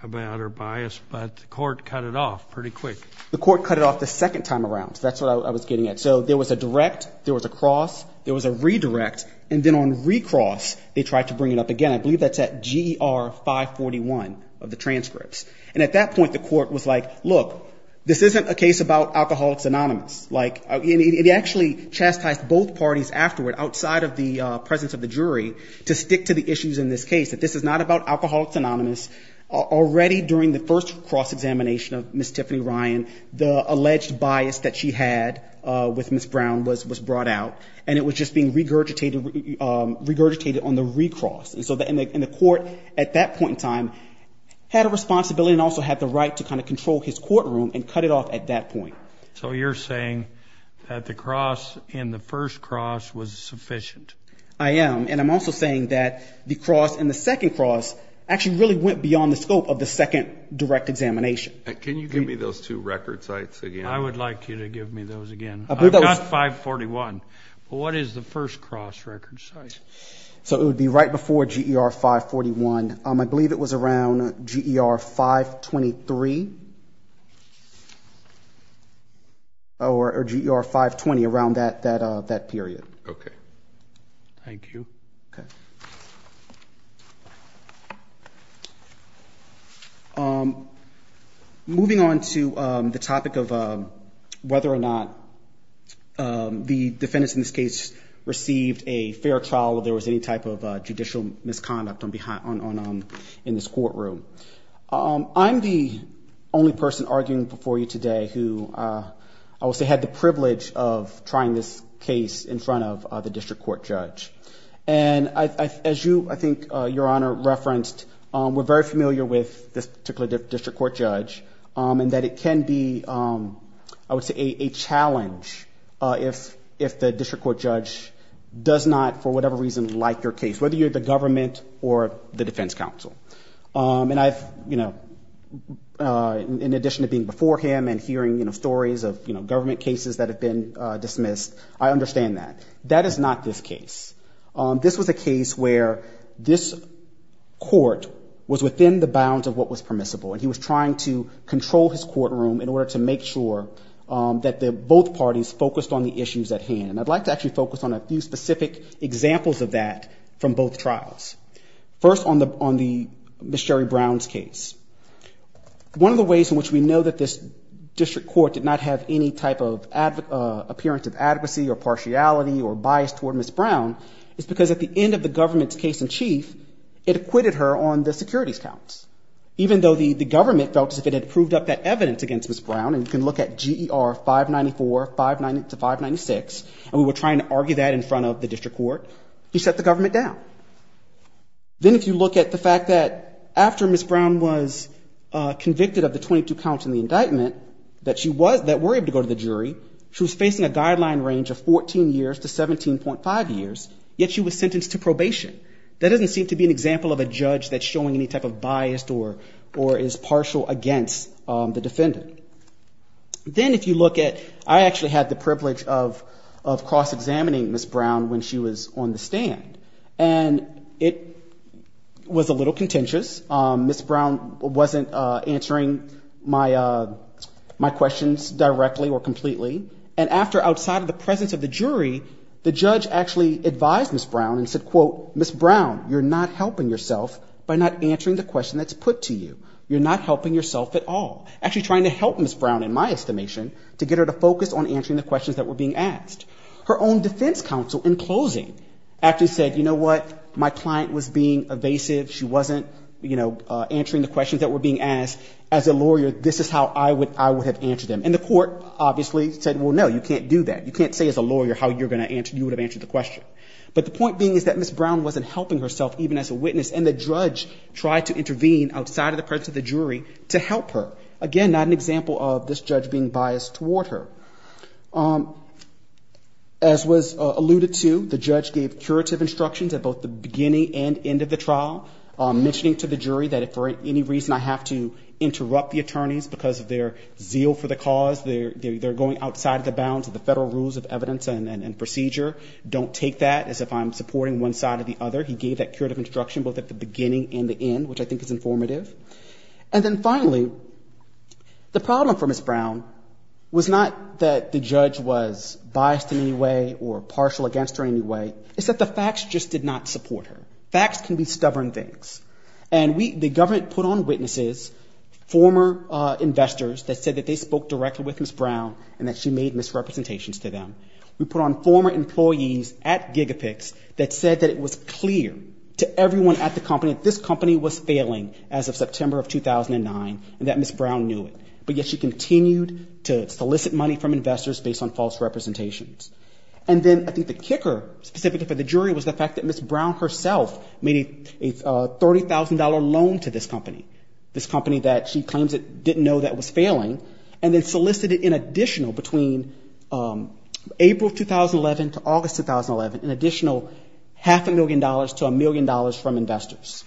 about her bias, but the court cut it off pretty quick. The court cut it off the second time around. That's what I was getting at. So there was a direct, there was a cross, there was a redirect, and then on recross, they tried to bring it up again. I believe that's at GR 541 of the transcripts. And at that point, the court was like, look, this isn't a case about alcohol phenomenon. It actually chastised both parties afterward, outside of the presence of the jury, to stick to the issues in this case, that this is not about alcohol phenomenon. Already during the first cross-examination of Ms. Tiffany Ryan, the alleged bias that she had with Ms. Brown was brought out, and it was just being regurgitated on the recross. And so the court at that point in time had a responsibility and also had the right to kind of control his courtroom and cut it off at that point. So you're saying that the cross in the first cross was sufficient? I am. And I'm also saying that the cross in the second cross actually really went beyond the scope of the second direct examination. Can you give me those two record sites again? I would like you to give me those again. I've got 541. What is the first cross record site? So it would be right before GR 541. And I believe it was around GR 523. Or GR 520, around that period. Okay. Thank you. Okay. Moving on to the topic of whether or not the defendants in this case received a fair trial, or there was any type of judicial misconduct in this courtroom. I'm the only person arguing before you today who, I would say, had the privilege of trying this case in front of the district court judge. And as I think Your Honor referenced, we're very familiar with this particular district court judge, and that it can be, I would say, a challenge if the district court judge does not, for whatever reasons, like your case, whether you're the government or the defense counsel. In addition to being before him and hearing stories of government cases that have been dismissed, I understand that. That is not this case. This was a case where this court was within the bounds of what was permissible, and he was trying to control his courtroom in order to make sure that both parties focused on the issues at hand. I'd like to actually focus on a few specific examples of that from both trials. First, on Ms. Sherry Brown's case. One of the ways in which we know that this district court did not have any type of appearance of advocacy or partiality or bias toward Ms. Brown is because at the end of the government's case in chief, it acquitted her on the securities counts, even though the government felt that if it had proved up that evidence against Ms. Brown, and you can look at GER 594-596, and we were trying to argue that in front of the district court, you set the government down. Then if you look at the fact that after Ms. Brown was convicted of the 22 counts in the indictment that she was, that were able to go to the jury, she was facing a guideline range of 14 years to 17.5 years, yet she was sentenced to probation. That doesn't seem to be an example of a judge that's showing any type of bias or is partial against the defendant. Then if you look at, I actually had the privilege of cross-examining Ms. Brown when she was on the stand, and it was a little contentious. Ms. Brown wasn't answering my questions directly or completely, and after outside of the presence of the jury, the judge actually advised Ms. Brown and said, quote, Ms. Brown, you're not helping yourself by not answering the question that's put to you. You're not helping yourself at all. Actually trying to help Ms. Brown, in my estimation, to get her to focus on answering the questions that were being asked. Her own defense counsel, in closing, actually said, you know what, my client was being evasive. She wasn't answering the questions that were being asked. As a lawyer, this is how I would have answered them. And the court obviously said, well, no, you can't do that. You can't say as a lawyer how you would have answered the question. But the point being is that Ms. Brown wasn't helping herself even as a witness, and the judge tried to intervene outside of the presence of the jury to help her. Again, not an example of this judge being biased toward her. As was alluded to, the judge gave curative instructions at both the beginning and end of the trial, mentioning to the jury that if for any reason I have to interrupt the attorneys because they're zeal for the cause, they're going outside of the bounds of the federal rules of evidence and procedure, don't take that as if I'm supporting one side or the other. He gave that curative instruction both at the beginning and the end, which I think is informative. And then finally, the problem for Ms. Brown was not that the judge was biased in any way or partial against her in any way. It's that the facts just did not support her. Facts can be stubborn things. And the government put on witnesses, former investors, that said that they spoke directly with Ms. Brown and that she made misrepresentations to them. We put on former employees at Gigafix that said that it was clear to everyone at the company that this company was failing as of September of 2009 and that Ms. Brown knew it. But yet she continued to solicit money from investors based on false representations. And then I think the kicker, specifically for the jury, was the fact that Ms. Brown herself made a $30,000 loan to this company, this company that she claims didn't know that was failing, and then solicited in additional between April 2011 to August 2011 an additional half a million dollars to a million dollars from investors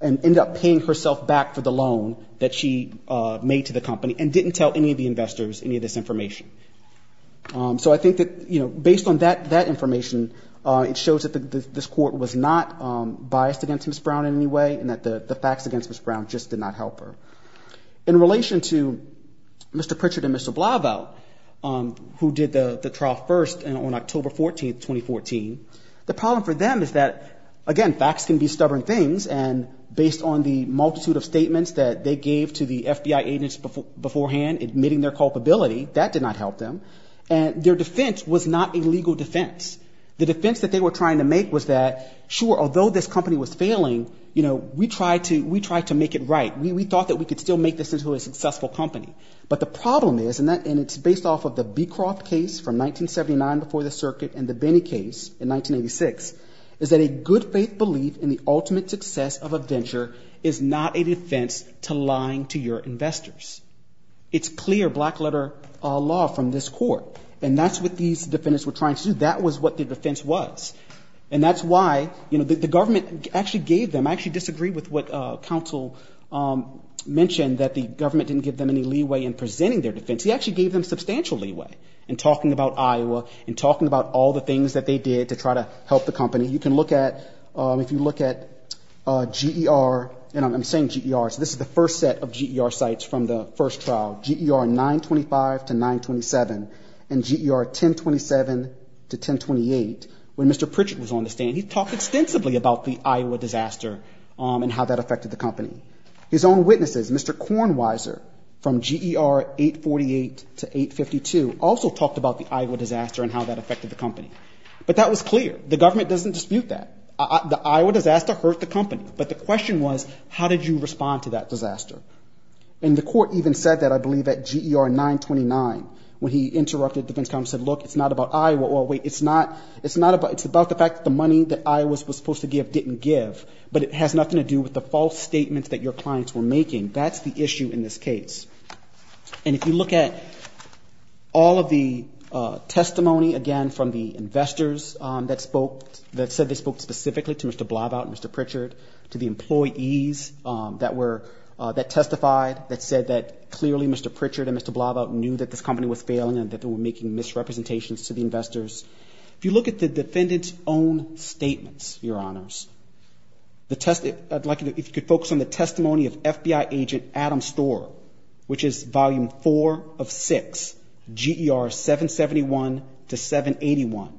and ended up paying herself back for the loan that she made to the company and didn't tell any of the investors any of this information. So I think that based on that information, it shows that this court was not biased against Ms. Brown in any way and that the facts against Ms. Brown just did not help her. In relation to Mr. Pritchett and Mr. Blauvelt, who did the trial first on October 14, 2014, the problem for them is that, again, facts can be stubborn things, and based on the multitude of statements that they gave to the FBI agents beforehand admitting their culpability, that did not help them. Their defense was not a legal defense. The defense that they were trying to make was that, sure, although this company was failing, we tried to make it right. We thought that we could still make this into a successful company. But the problem is, and it's based off of the Beecroft case from 1979 before the circuit and the Benny case in 1986, is that a good faith belief in the ultimate success of a venture is not a defense to lying to your investors. It's clear black-letter law from this court, and that's what these defendants were trying to do. That was what their defense was. And that's why the government actually gave them, and I actually disagree with what counsel mentioned, that the government didn't give them any leeway in presenting their defense. He actually gave them substantial leeway in talking about Iowa and talking about all the things that they did to try to help the company. You can look at, if you look at GER, and I'm saying GER, so this is the first set of GER sites from the first trial, GER 925 to 927 and GER 1027 to 1028, when Mr. Pritchett was on the stand, he talked extensively about the Iowa disaster and how that affected the company. His own witnesses, Mr. Kornweiser from GER 848 to 852, also talked about the Iowa disaster and how that affected the company. But that was clear. The government doesn't dispute that. The Iowa disaster hurt the company, but the question was, how did you respond to that disaster? And the court even said that, I believe, at GER 929, when he interrupted defense counsel and said, look, it's not about Iowa. It's about the fact that the money that Iowa was supposed to give didn't give, but it has nothing to do with the false statements that your clients were making. That's the issue in this case. And if you look at all of the testimony, again, from the investors that spoke, that said they spoke specifically to Mr. Blavat and Mr. Pritchett, to the employees that testified that said that clearly Mr. Pritchett and Mr. Blavat knew that this company was failing and that they were making misrepresentations to the investors. If you look at the defendant's own statements, Your Honors, I'd like you to focus on the testimony of FBI agent Adam Storer, which is volume four of six, GER 771 to 781,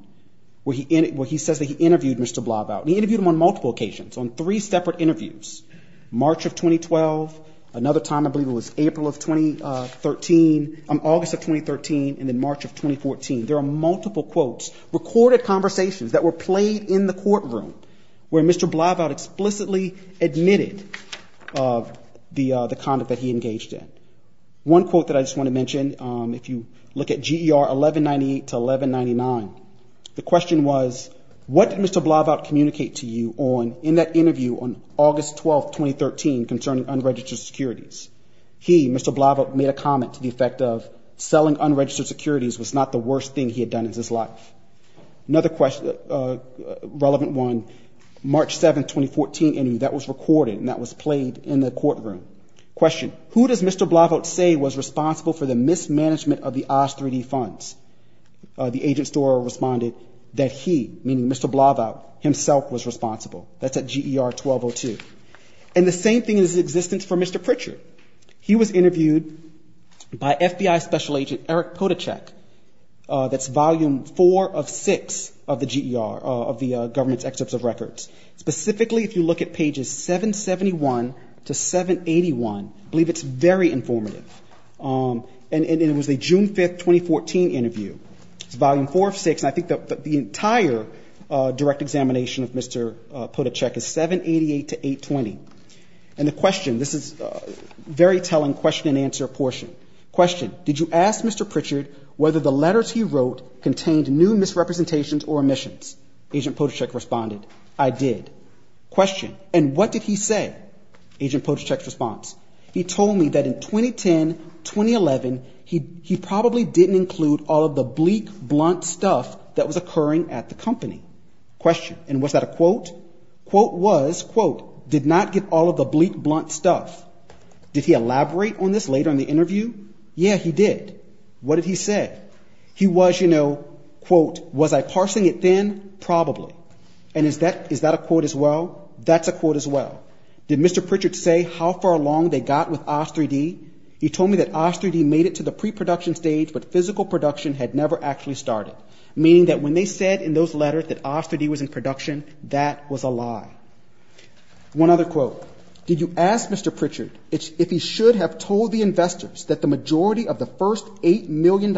where he says that he interviewed Mr. Blavat. He interviewed him on multiple occasions, on three separate interviews. March of 2012, another time I believe it was April of 2013, August of 2013, and then March of 2014. There are multiple quotes, recorded conversations that were played in the courtroom where Mr. Blavat explicitly admitted the conduct that he engaged in. One quote that I just want to mention, if you look at GER 1198 to 1199, the question was, what did Mr. Blavat communicate to you in that interview on August 12, 2013, concerning unregistered securities? He, Mr. Blavat, made a comment to the effect of, selling unregistered securities was not the worst thing he had done in his life. Another relevant one, March 7, 2014, and that was recorded and that was played in the courtroom. Question, who does Mr. Blavat say was responsible for the mismanagement of the OZ3D funds? The agent store responded that he, meaning Mr. Blavat, himself was responsible. That's at GER 1202. And the same thing is in existence for Mr. Pritchard. He was interviewed by FBI Special Agent Eric Podachek. That's volume four of six of the GER, of the government's excerpts of records. Specifically, if you look at pages 771 to 781, I believe it's very informative. And it was a June 5, 2014 interview. It's volume four of six, and I think the entire direct examination of Mr. Podachek is 788 to 820. And the question, this is a very telling question and answer portion. Question, did you ask Mr. Pritchard whether the letters he wrote contained new misrepresentations or omissions? Agent Podachek responded, I did. Question, and what did he say? Agent Podachek's response, he told me that in 2010, 2011, he probably didn't include all of the bleak, blunt stuff that was occurring at the company. Question, and was that a quote? Quote was, quote, did not get all of the bleak, blunt stuff. Did he elaborate on this later in the interview? Yes, he did. What did he say? He was, you know, quote, was I parsing it thin? Probably. And is that a quote as well? That's a quote as well. Did Mr. Pritchard say how far along they got with Oz3D? He told me that Oz3D made it to the pre-production stage, but physical production had never actually started, meaning that when they said in those letters that Oz3D was in production, that was a lie. One other quote. Did you ask Mr. Pritchard if he should have told the investors that the majority of the first $8 million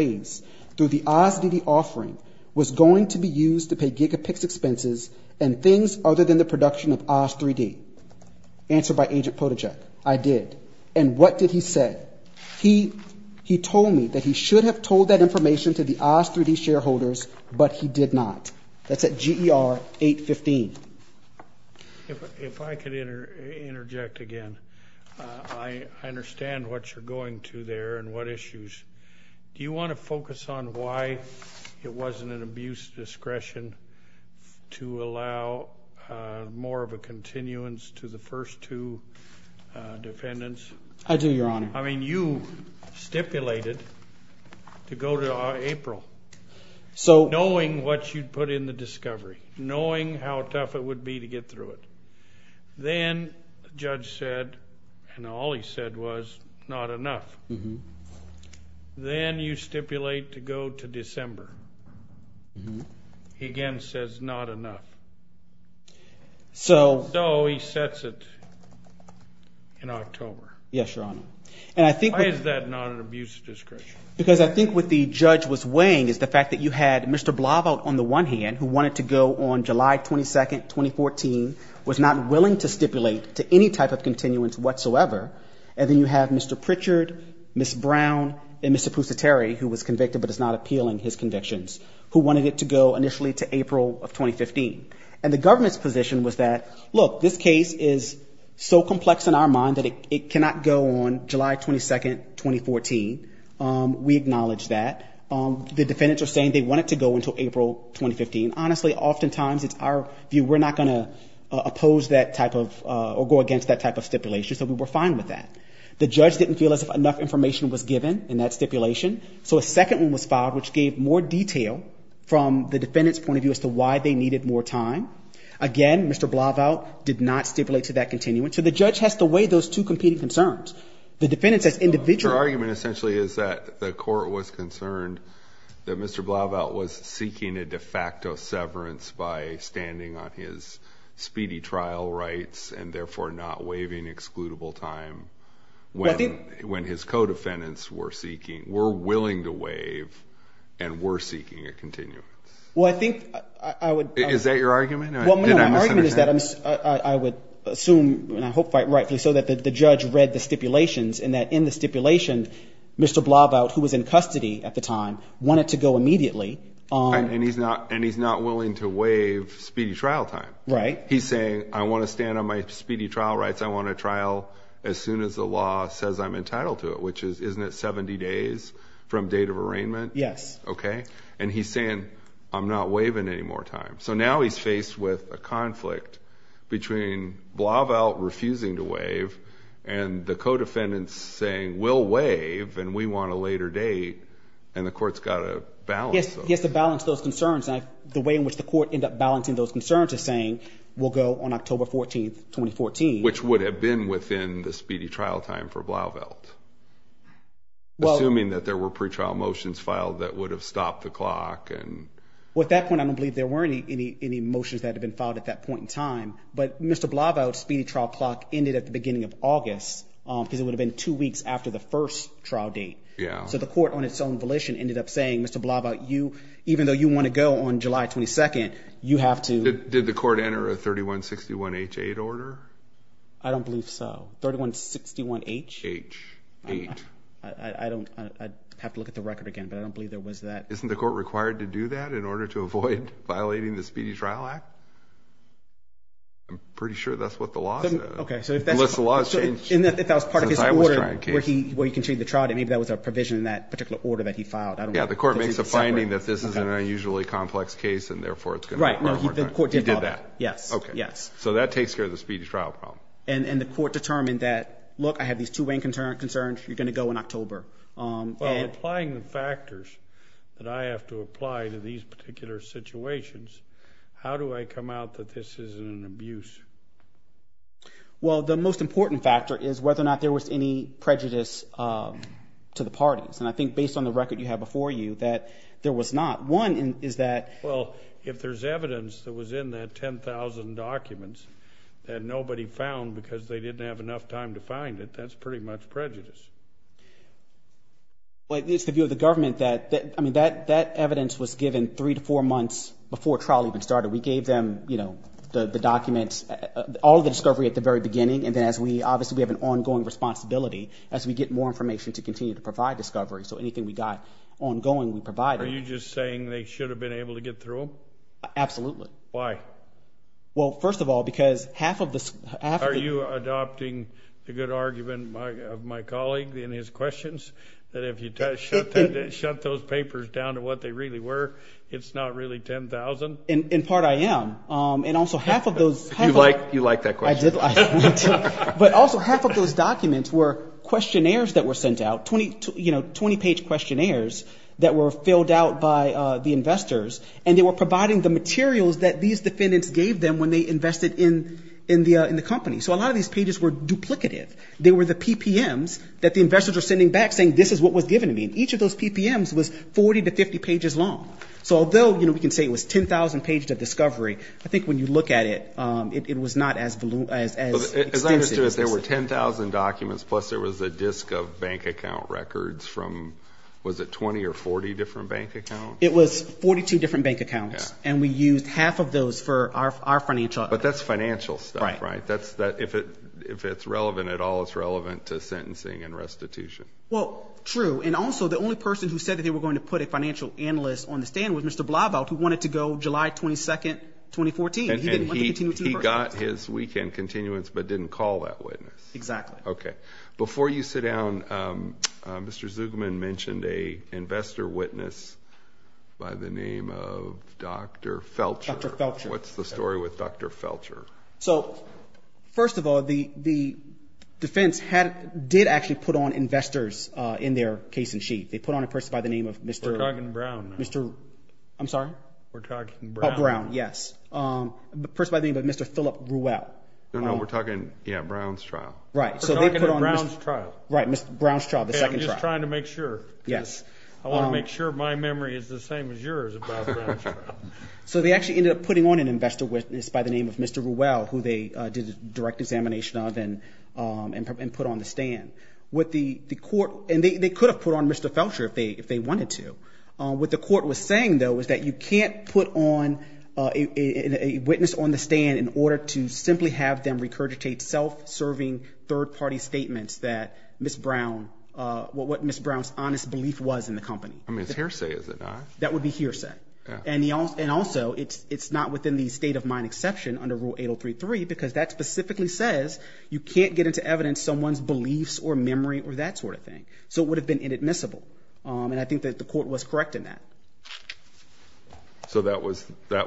raised through the Oz3D offering was going to be used to pay gigapix expenses and things other than the production of Oz3D? Answered by Agent Potajek, I did. And what did he say? He told me that he should have told that information to the Oz3D shareholders, but he did not. That's at GER 815. If I could interject again, I understand what you're going to there and what issues. Do you want to focus on why it wasn't an abuse of discretion to allow more of a continuance to the first two dependents? I do, Your Honor. I mean, you stipulated to go to April, knowing what you'd put in the discovery, knowing how tough it would be to get through it. Then the judge said, and all he said was, not enough. Then you stipulate to go to December. He again says not enough. So he sets it in October. Yes, Your Honor. Why is that not an abuse of discretion? Because I think what the judge was weighing is the fact that you had Mr. Blava on the one hand, who wanted to go on July 22nd, 2014, was not willing to stipulate to any type of continuance whatsoever. And then you have Mr. Pritchard, Ms. Brown, and Mr. Pusateri, who was convicted but is not appealing his convictions, who wanted it to go initially to April of 2015. And the governor's position was that, look, this case is so complex in our mind that it cannot go on July 22nd, 2014. We acknowledge that. The defendants are saying they want it to go until April 2015. Honestly, oftentimes, in our view, we're not going to oppose that type of or go against that type of stipulation. So we were fine with that. The judge didn't feel as if enough information was given in that stipulation. So a second one was filed, which gave more detail from the defendant's point of view as to why they needed more time. Again, Mr. Blava did not stipulate to that continuance. So the judge has to weigh those two competing concerns. Your argument essentially is that the court was concerned that Mr. Blava was seeking a de facto severance by standing on his speedy trial rights and therefore not waiving excludable time when his co-defendants were seeking, were willing to waive, and were seeking a continuum. Is that your argument? Well, my argument is that I would assume and I hope quite rightly so that the judge read the stipulations and that in the stipulation, Mr. Blava, who was in custody at the time, wanted to go immediately. And he's not willing to waive speedy trial time. Right. He's saying, I want to stand on my speedy trial rights. I want to trial as soon as the law says I'm entitled to it, which is, isn't it 70 days from date of arraignment? Yes. Okay. And he's saying, I'm not waiving any more time. So now he's faced with a conflict between Blava refusing to waive and the co-defendants saying, we'll waive and we want a later date, and the court's got to balance them. He has to balance those concerns. The way in which the court ends up balancing those concerns is saying, we'll go on October 14, 2014. Which would have been within the speedy trial time for Blava, assuming that there were pretrial motions filed that would have stopped the clock. Well, at that point, I don't believe there were any motions that had been filed at that point in time. But Mr. Blava's speedy trial clock ended at the beginning of August, because it would have been two weeks after the first trial date. So the court, on its own volition, ended up saying, Mr. Blava, even though you want to go on July 22, you have to – Did the court enter a 3161H8 order? I don't believe so. 3161H? H8. I'd have to look at the record again, but I don't believe there was that. Isn't the court required to do that in order to avoid violating the Speedy Trial Act? I'm pretty sure that's what the law says. Okay, so if that's – Unless the law says – So if that's part of his order, where he can see the trial date, maybe that was a provision in that particular order that he filed. I don't know. Yeah, the court makes a finding that this is an unusually complex case, and therefore it's going to – Right, no, the court did file that. He did that. Yes. Okay. Yes. So that takes care of the speedy trial problem. And the court determined that, look, I have these two main concerns. You're going to go in October. By applying the factors that I have to apply to these particular situations, how do I come out that this isn't an abuse? Well, the most important factor is whether or not there was any prejudice to the parties. And I think based on the record you have before you that there was not. One is that – Well, if there's evidence that was in that 10,000 documents that nobody found because they didn't have enough time to find it, that's pretty much prejudice. Well, it needs to do with the government that – I mean, that evidence was given three to four months before trial even started. We gave them, you know, the documents, all the discovery at the very beginning, and then as we – obviously we have an ongoing responsibility as we get more information to continue to provide discovery. So anything we got ongoing, we provide it. Are you just saying they should have been able to get through? Absolutely. Why? Well, first of all, because half of the – Are you adopting the good argument of my colleague in his questions, that if you shut those papers down to what they really were, it's not really 10,000? In part, I am. And also half of those – You like that question. But also half of those documents were questionnaires that were sent out, 20-page questionnaires that were filled out by the investors, and they were providing the materials that these defendants gave them when they invested in the company. So a lot of these pages were duplicative. They were the PPMs that the investors were sending back, saying this is what was given to me. And each of those PPMs was 40 to 50 pages long. So although, you know, we can say it was 10,000 pages of discovery, I think when you look at it, it was not as extensive. As I understood it, there were 10,000 documents, plus there was a disk of bank account records from – was it 20 or 40 different bank accounts? It was 42 different bank accounts, and we used half of those for our financial – But that's financial stuff, right? If it's relevant at all, it's relevant to sentencing and restitution. Well, true. And also the only person who said that they were going to put a financial analyst on the stand was Mr. Blaubelt, who wanted to go July 22, 2014. And he got his weekend continuance but didn't call that witness. Exactly. Okay. Before you sit down, Mr. Zugman mentioned an investor witness by the name of Dr. Felcher. Dr. Felcher. What's the story with Dr. Felcher? So first of all, the defense did actually put on investors in their case in sheet. They put on a person by the name of Mr. – We're talking Brown. Mr. – I'm sorry? We're talking Brown. Oh, Brown, yes. The person by the name of Mr. Philip Ruel. No, no, we're talking – yeah, Brown's trial. Right, so they put on – We're talking the Brown's trial. Right, Brown's trial, the second trial. I'm just trying to make sure. Yes. I want to make sure my memory is the same as yours about Brown's trial. So they actually ended up putting on an investor witness by the name of Mr. Ruel, who they did a direct examination of and put on the stand. What the court – and they could have put on Mr. Felcher if they wanted to. What the court was saying, though, was that you can't put on a witness on the stand in order to simply have them regurgitate self-serving third-party statements that Ms. Brown – what Ms. Brown's honest belief was in the company. I mean, it's hearsay, is it not? That would be hearsay. And also, it's not within the state of mind exception under Rule 8033 because that specifically says you can't get into evidence someone's beliefs or memory or that sort of thing. So it would have been inadmissible. And I think that the court was correct in that. So that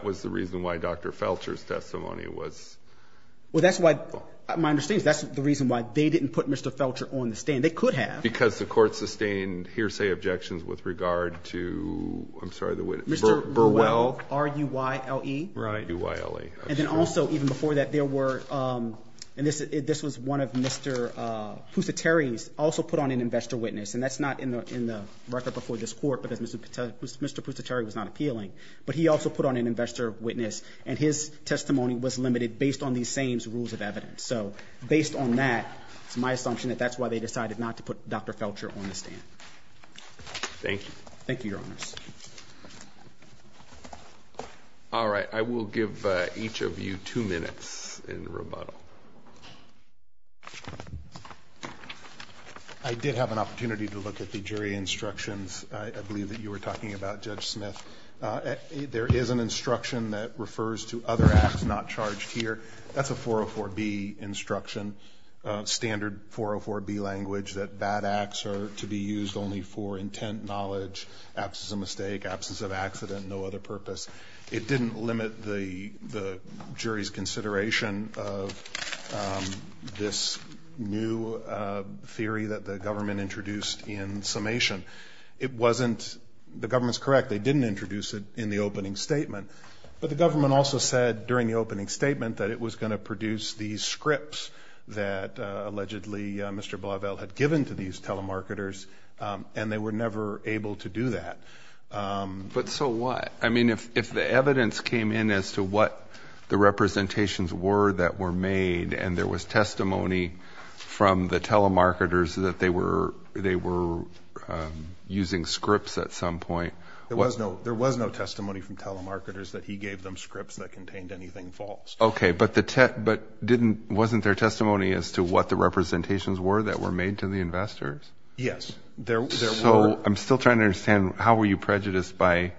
was the reason why Dr. Felcher's testimony was – Well, that's why – my understanding is that's the reason why they didn't put Mr. Felcher on the stand. They could have. Because the court sustained hearsay objections with regard to – I'm sorry, the witness. Mr. Ruel. R-U-Y-L-E. Right. R-U-Y-L-E. And then also, even before that, there were – and this was one of Mr. Poussé-Terry's – also put on an investor witness. And that's not in the record before this court because Mr. Poussé-Terry was not appealing. But he also put on an investor witness, and his testimony was limited based on these same rules of evidence. So based on that, my assumption is that's why they decided not to put Dr. Felcher on the stand. Thank you. Thank you, Your Honors. All right. I will give each of you two minutes in rebuttal. I did have an opportunity to look at the jury instructions. I believe that you were talking about Judge Smith. There is an instruction that refers to other acts not charged here. That's a 404B instruction, standard 404B language, that bad acts are to be used only for intent, knowledge, absence of mistake, absence of accident, no other purpose. It didn't limit the jury's consideration of this new theory that the government introduced in summation. It wasn't – the government's correct. They didn't introduce it in the opening statement. But the government also said during the opening statement that it was going to produce these scripts that allegedly Mr. Blauvelt had given to these telemarketers, and they were never able to do that. But so what? I mean, if the evidence came in as to what the representations were that were made and there was testimony from the telemarketers that they were using scripts at some point. There was no testimony from telemarketers that he gave them scripts that contained anything false. Okay, but the – but didn't – wasn't there testimony as to what the representations were that were made to the investors? Yes, there were. So I'm still trying to understand how were you prejudiced by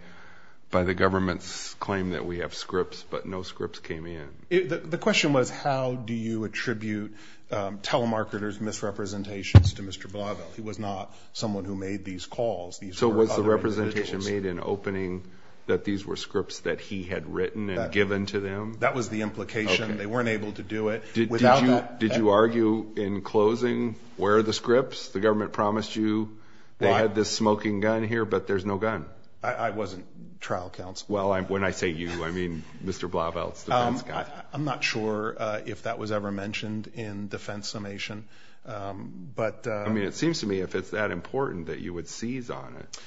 the government's claim that we have scripts but no scripts came in? The question was how do you attribute telemarketers' misrepresentations to Mr. Blauvelt. He was not someone who made these calls. So was the representation made in opening that these were scripts that he had written and given to them? That was the implication. They weren't able to do it. Did you argue in closing where are the scripts? The government promised you they had this smoking gun here, but there's no gun. I wasn't trial counsel. Well, when I say you, I mean Mr. Blauvelt's defense guy. I'm not sure if that was ever mentioned in defense summation. I mean, it seems to me if it's that important that you would seize on it.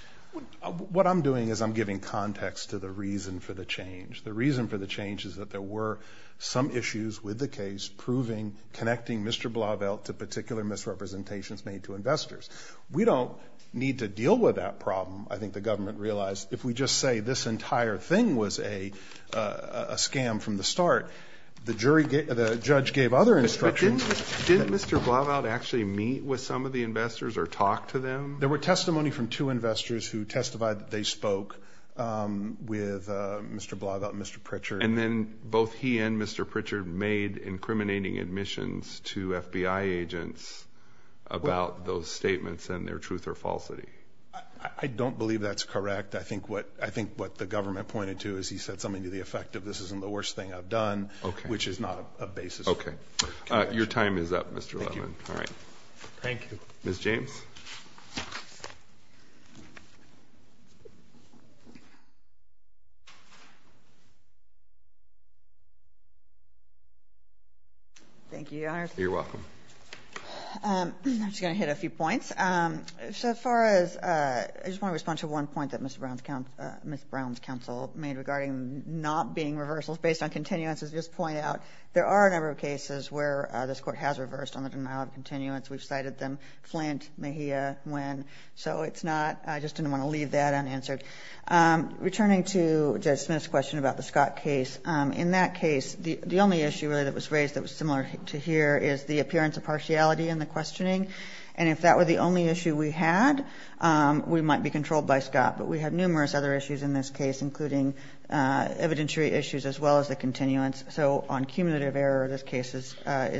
What I'm doing is I'm giving context to the reason for the change. The reason for the change is that there were some issues with the case proving connecting Mr. Blauvelt to particular misrepresentations made to investors. We don't need to deal with that problem, I think the government realized. If we just say this entire thing was a scam from the start, the judge gave other instructions. Did Mr. Blauvelt actually meet with some of the investors or talk to them? There were testimony from two investors who testified that they spoke with Mr. Blauvelt and Mr. Pritchard. And then both he and Mr. Pritchard made incriminating admissions to FBI agents about those statements and their truth or falsity. I don't believe that's correct. I think what the government pointed to is he said something to the effect of this isn't the worst thing I've done, which is not a basis. Your time is up, Mr. Levin. Thank you. Ms. James? Thank you, Your Honor. You're welcome. I'm just going to hit a few points. So as far as, I just want to respond to one point that Ms. Brown's counsel made regarding not being reversal based on continuance. There are a number of cases where this Court has reversed on the denial of continuance. We've cited them. Flank, Mejia, Nguyen. So it's not, I just didn't want to leave that unanswered. Returning to Judge Smith's question about the Scott case, in that case, the only issue really that was raised that was similar to here is the appearance of partiality in the questioning. And if that were the only issue we had, we might be controlled by Scott. But we had numerous other issues in this case, including evidentiary issues as well as the continuance. So on cumulative error, this case is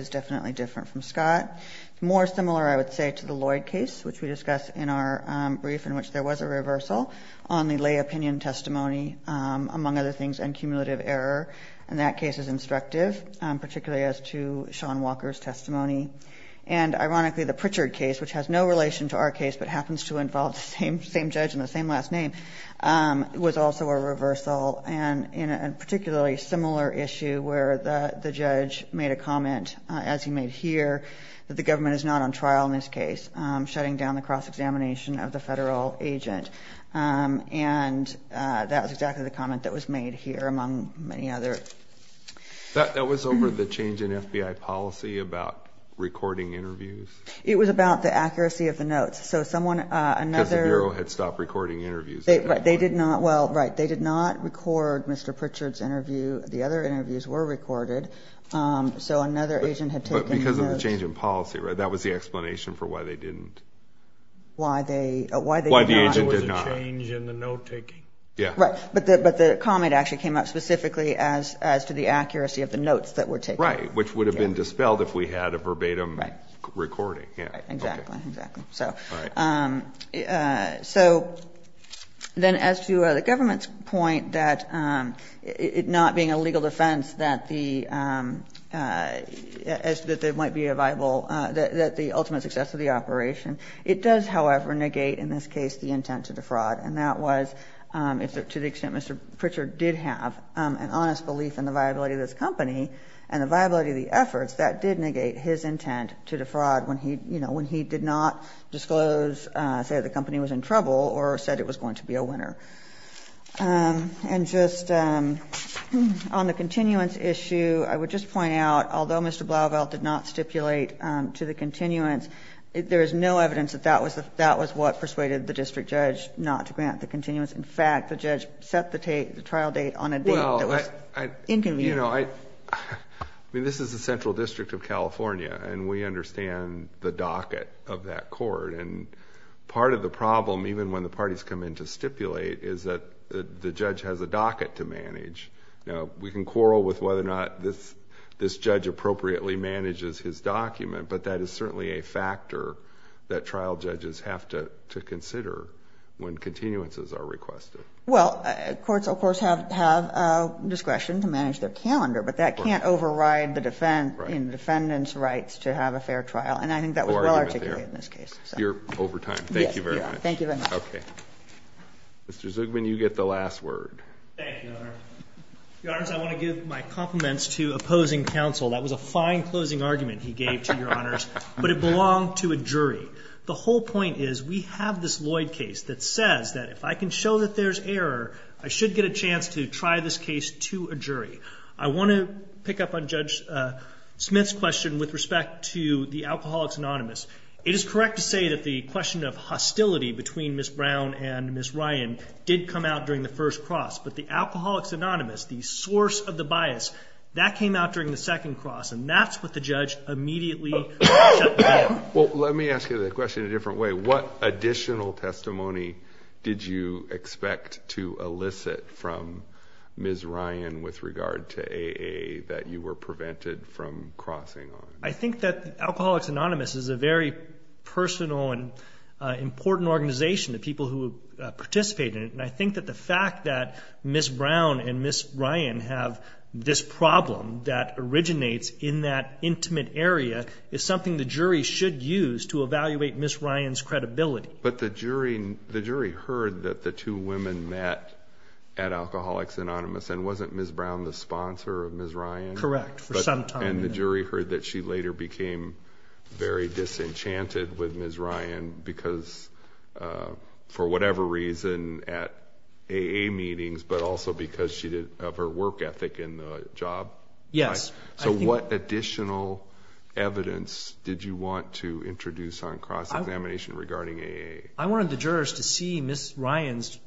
definitely different from Scott. More similar, I would say, to the Lloyd case, which we discussed in our brief in which there was a reversal on the lay opinion testimony, among other things, and cumulative error. And that case is instructive, particularly as to Sean Walker's testimony. And ironically, the Pritchard case, which has no relation to our case but happens to involve the same judge and the same last name, was also a reversal, and in a particularly similar issue where the judge made a comment, as he made here, that the government is not on trial in this case, shutting down the cross-examination of the federal agent. And that was exactly the comment that was made here, among many others. That was over the change in FBI policy about recording interviews? It was about the accuracy of the notes. Because the Bureau had stopped recording interviews. They did not record Mr. Pritchard's interview. The other interviews were recorded. So another agent had taken the notes. But because of the change in policy, right? That was the explanation for why they didn't. Why the agent did not. It was a change in the note-taking. Right. But the comment actually came up specifically as to the accuracy of the notes that were taken. Right, which would have been dispelled if we had a verbatim recording. Exactly. So then as to the government's point that it not being a legal defense that the ultimate success of the operation, it does, however, negate in this case the intent of the fraud. And that was to the extent Mr. Pritchard did have an honest belief in the viability of this company and the viability of the efforts, that did negate his intent to defraud when he did not disclose, say the company was in trouble or said it was going to be a winner. And just on the continuance issue, I would just point out, although Mr. Blauvelt did not stipulate to the continuance, there is no evidence that that was what persuaded the district judge not to grant the continuance. In fact, the judge set the trial date on a date that was inconvenient. I mean, this is the Central District of California, and we understand the docket of that court. And part of the problem, even when the parties come in to stipulate, is that the judge has a docket to manage. Now, we can quarrel with whether or not this judge appropriately manages his document, but that is certainly a factor that trial judges have to consider when continuances are requested. Well, courts, of course, have discretion to manage their calendar, but that can't override the defendant's rights to have a fair trial. And I think that was well articulated in this case. You're over time. Thank you very much. Thank you very much. Okay. Mr. Zugman, you get the last word. Thank you, Your Honor. Your Honor, I want to give my compliments to opposing counsel. That was a fine closing argument he gave to Your Honors, but it belonged to a jury. The whole point is we have this Lloyd case that says that if I can show that there's error, I should get a chance to try this case to a jury. I want to pick up on Judge Smith's question with respect to the Alcoholics Anonymous. It is correct to say that the question of hostility between Ms. Brown and Ms. Ryan did come out during the first cross, but the Alcoholics Anonymous, the source of the bias, that came out during the second cross, and that's what the judge immediately accepted. Well, let me ask you the question a different way. What additional testimony did you expect to elicit from Ms. Ryan with regard to AA that you were prevented from crossing on? I think that Alcoholics Anonymous is a very personal and important organization of people who participate in it, and I think that the fact that Ms. Brown and Ms. Ryan have this problem that originates in that intimate area is something the jury should use to evaluate Ms. Ryan's credibility. But the jury heard that the two women met at Alcoholics Anonymous, and wasn't Ms. Brown the sponsor of Ms. Ryan? Correct, for some time. And the jury heard that she later became very disenchanted with Ms. Ryan because, for whatever reason, at AA meetings, but also because of her work ethic in the job? Yes. So what additional evidence did you want to introduce on cross-examination regarding AA? I wanted the jurors to see Ms. Ryan's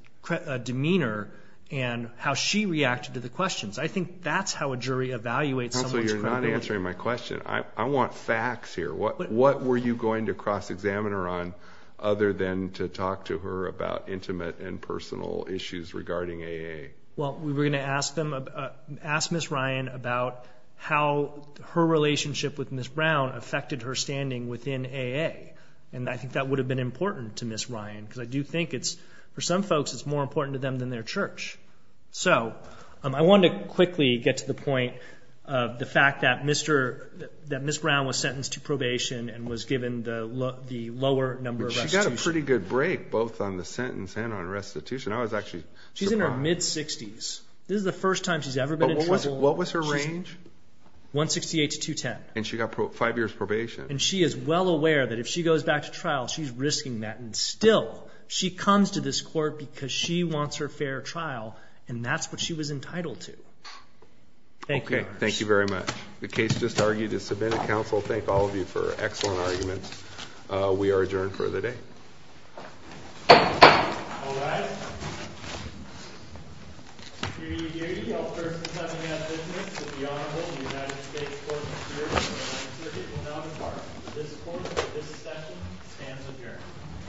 demeanor and how she reacted to the questions. I think that's how a jury evaluates someone's credibility. You're not answering my question. I want facts here. What were you going to cross-examine her on other than to talk to her about intimate and personal issues regarding AA? Well, we were going to ask Ms. Ryan about how her relationship with Ms. Brown affected her standing within AA, and I think that would have been important to Ms. Ryan because I do think it's, for some folks, it's more important to them than their church. So I wanted to quickly get to the point of the fact that Ms. Brown was sentenced to probation and was given the lower number of restitution. But she got a pretty good break, both on the sentence and on restitution. I was actually surprised. She's in her mid-60s. This is the first time she's ever been in trouble. What was her range? 168 to 210. And she got five years probation. And she is well aware that if she goes back to trial, she's risking that, and still she comes to this court because she wants her fair trial, and that's what she was entitled to. Thank you. Okay, thank you very much. The case just argued is submitted to counsel. Thank all of you for excellent arguments. We are adjourned for the day. All right. Thank you.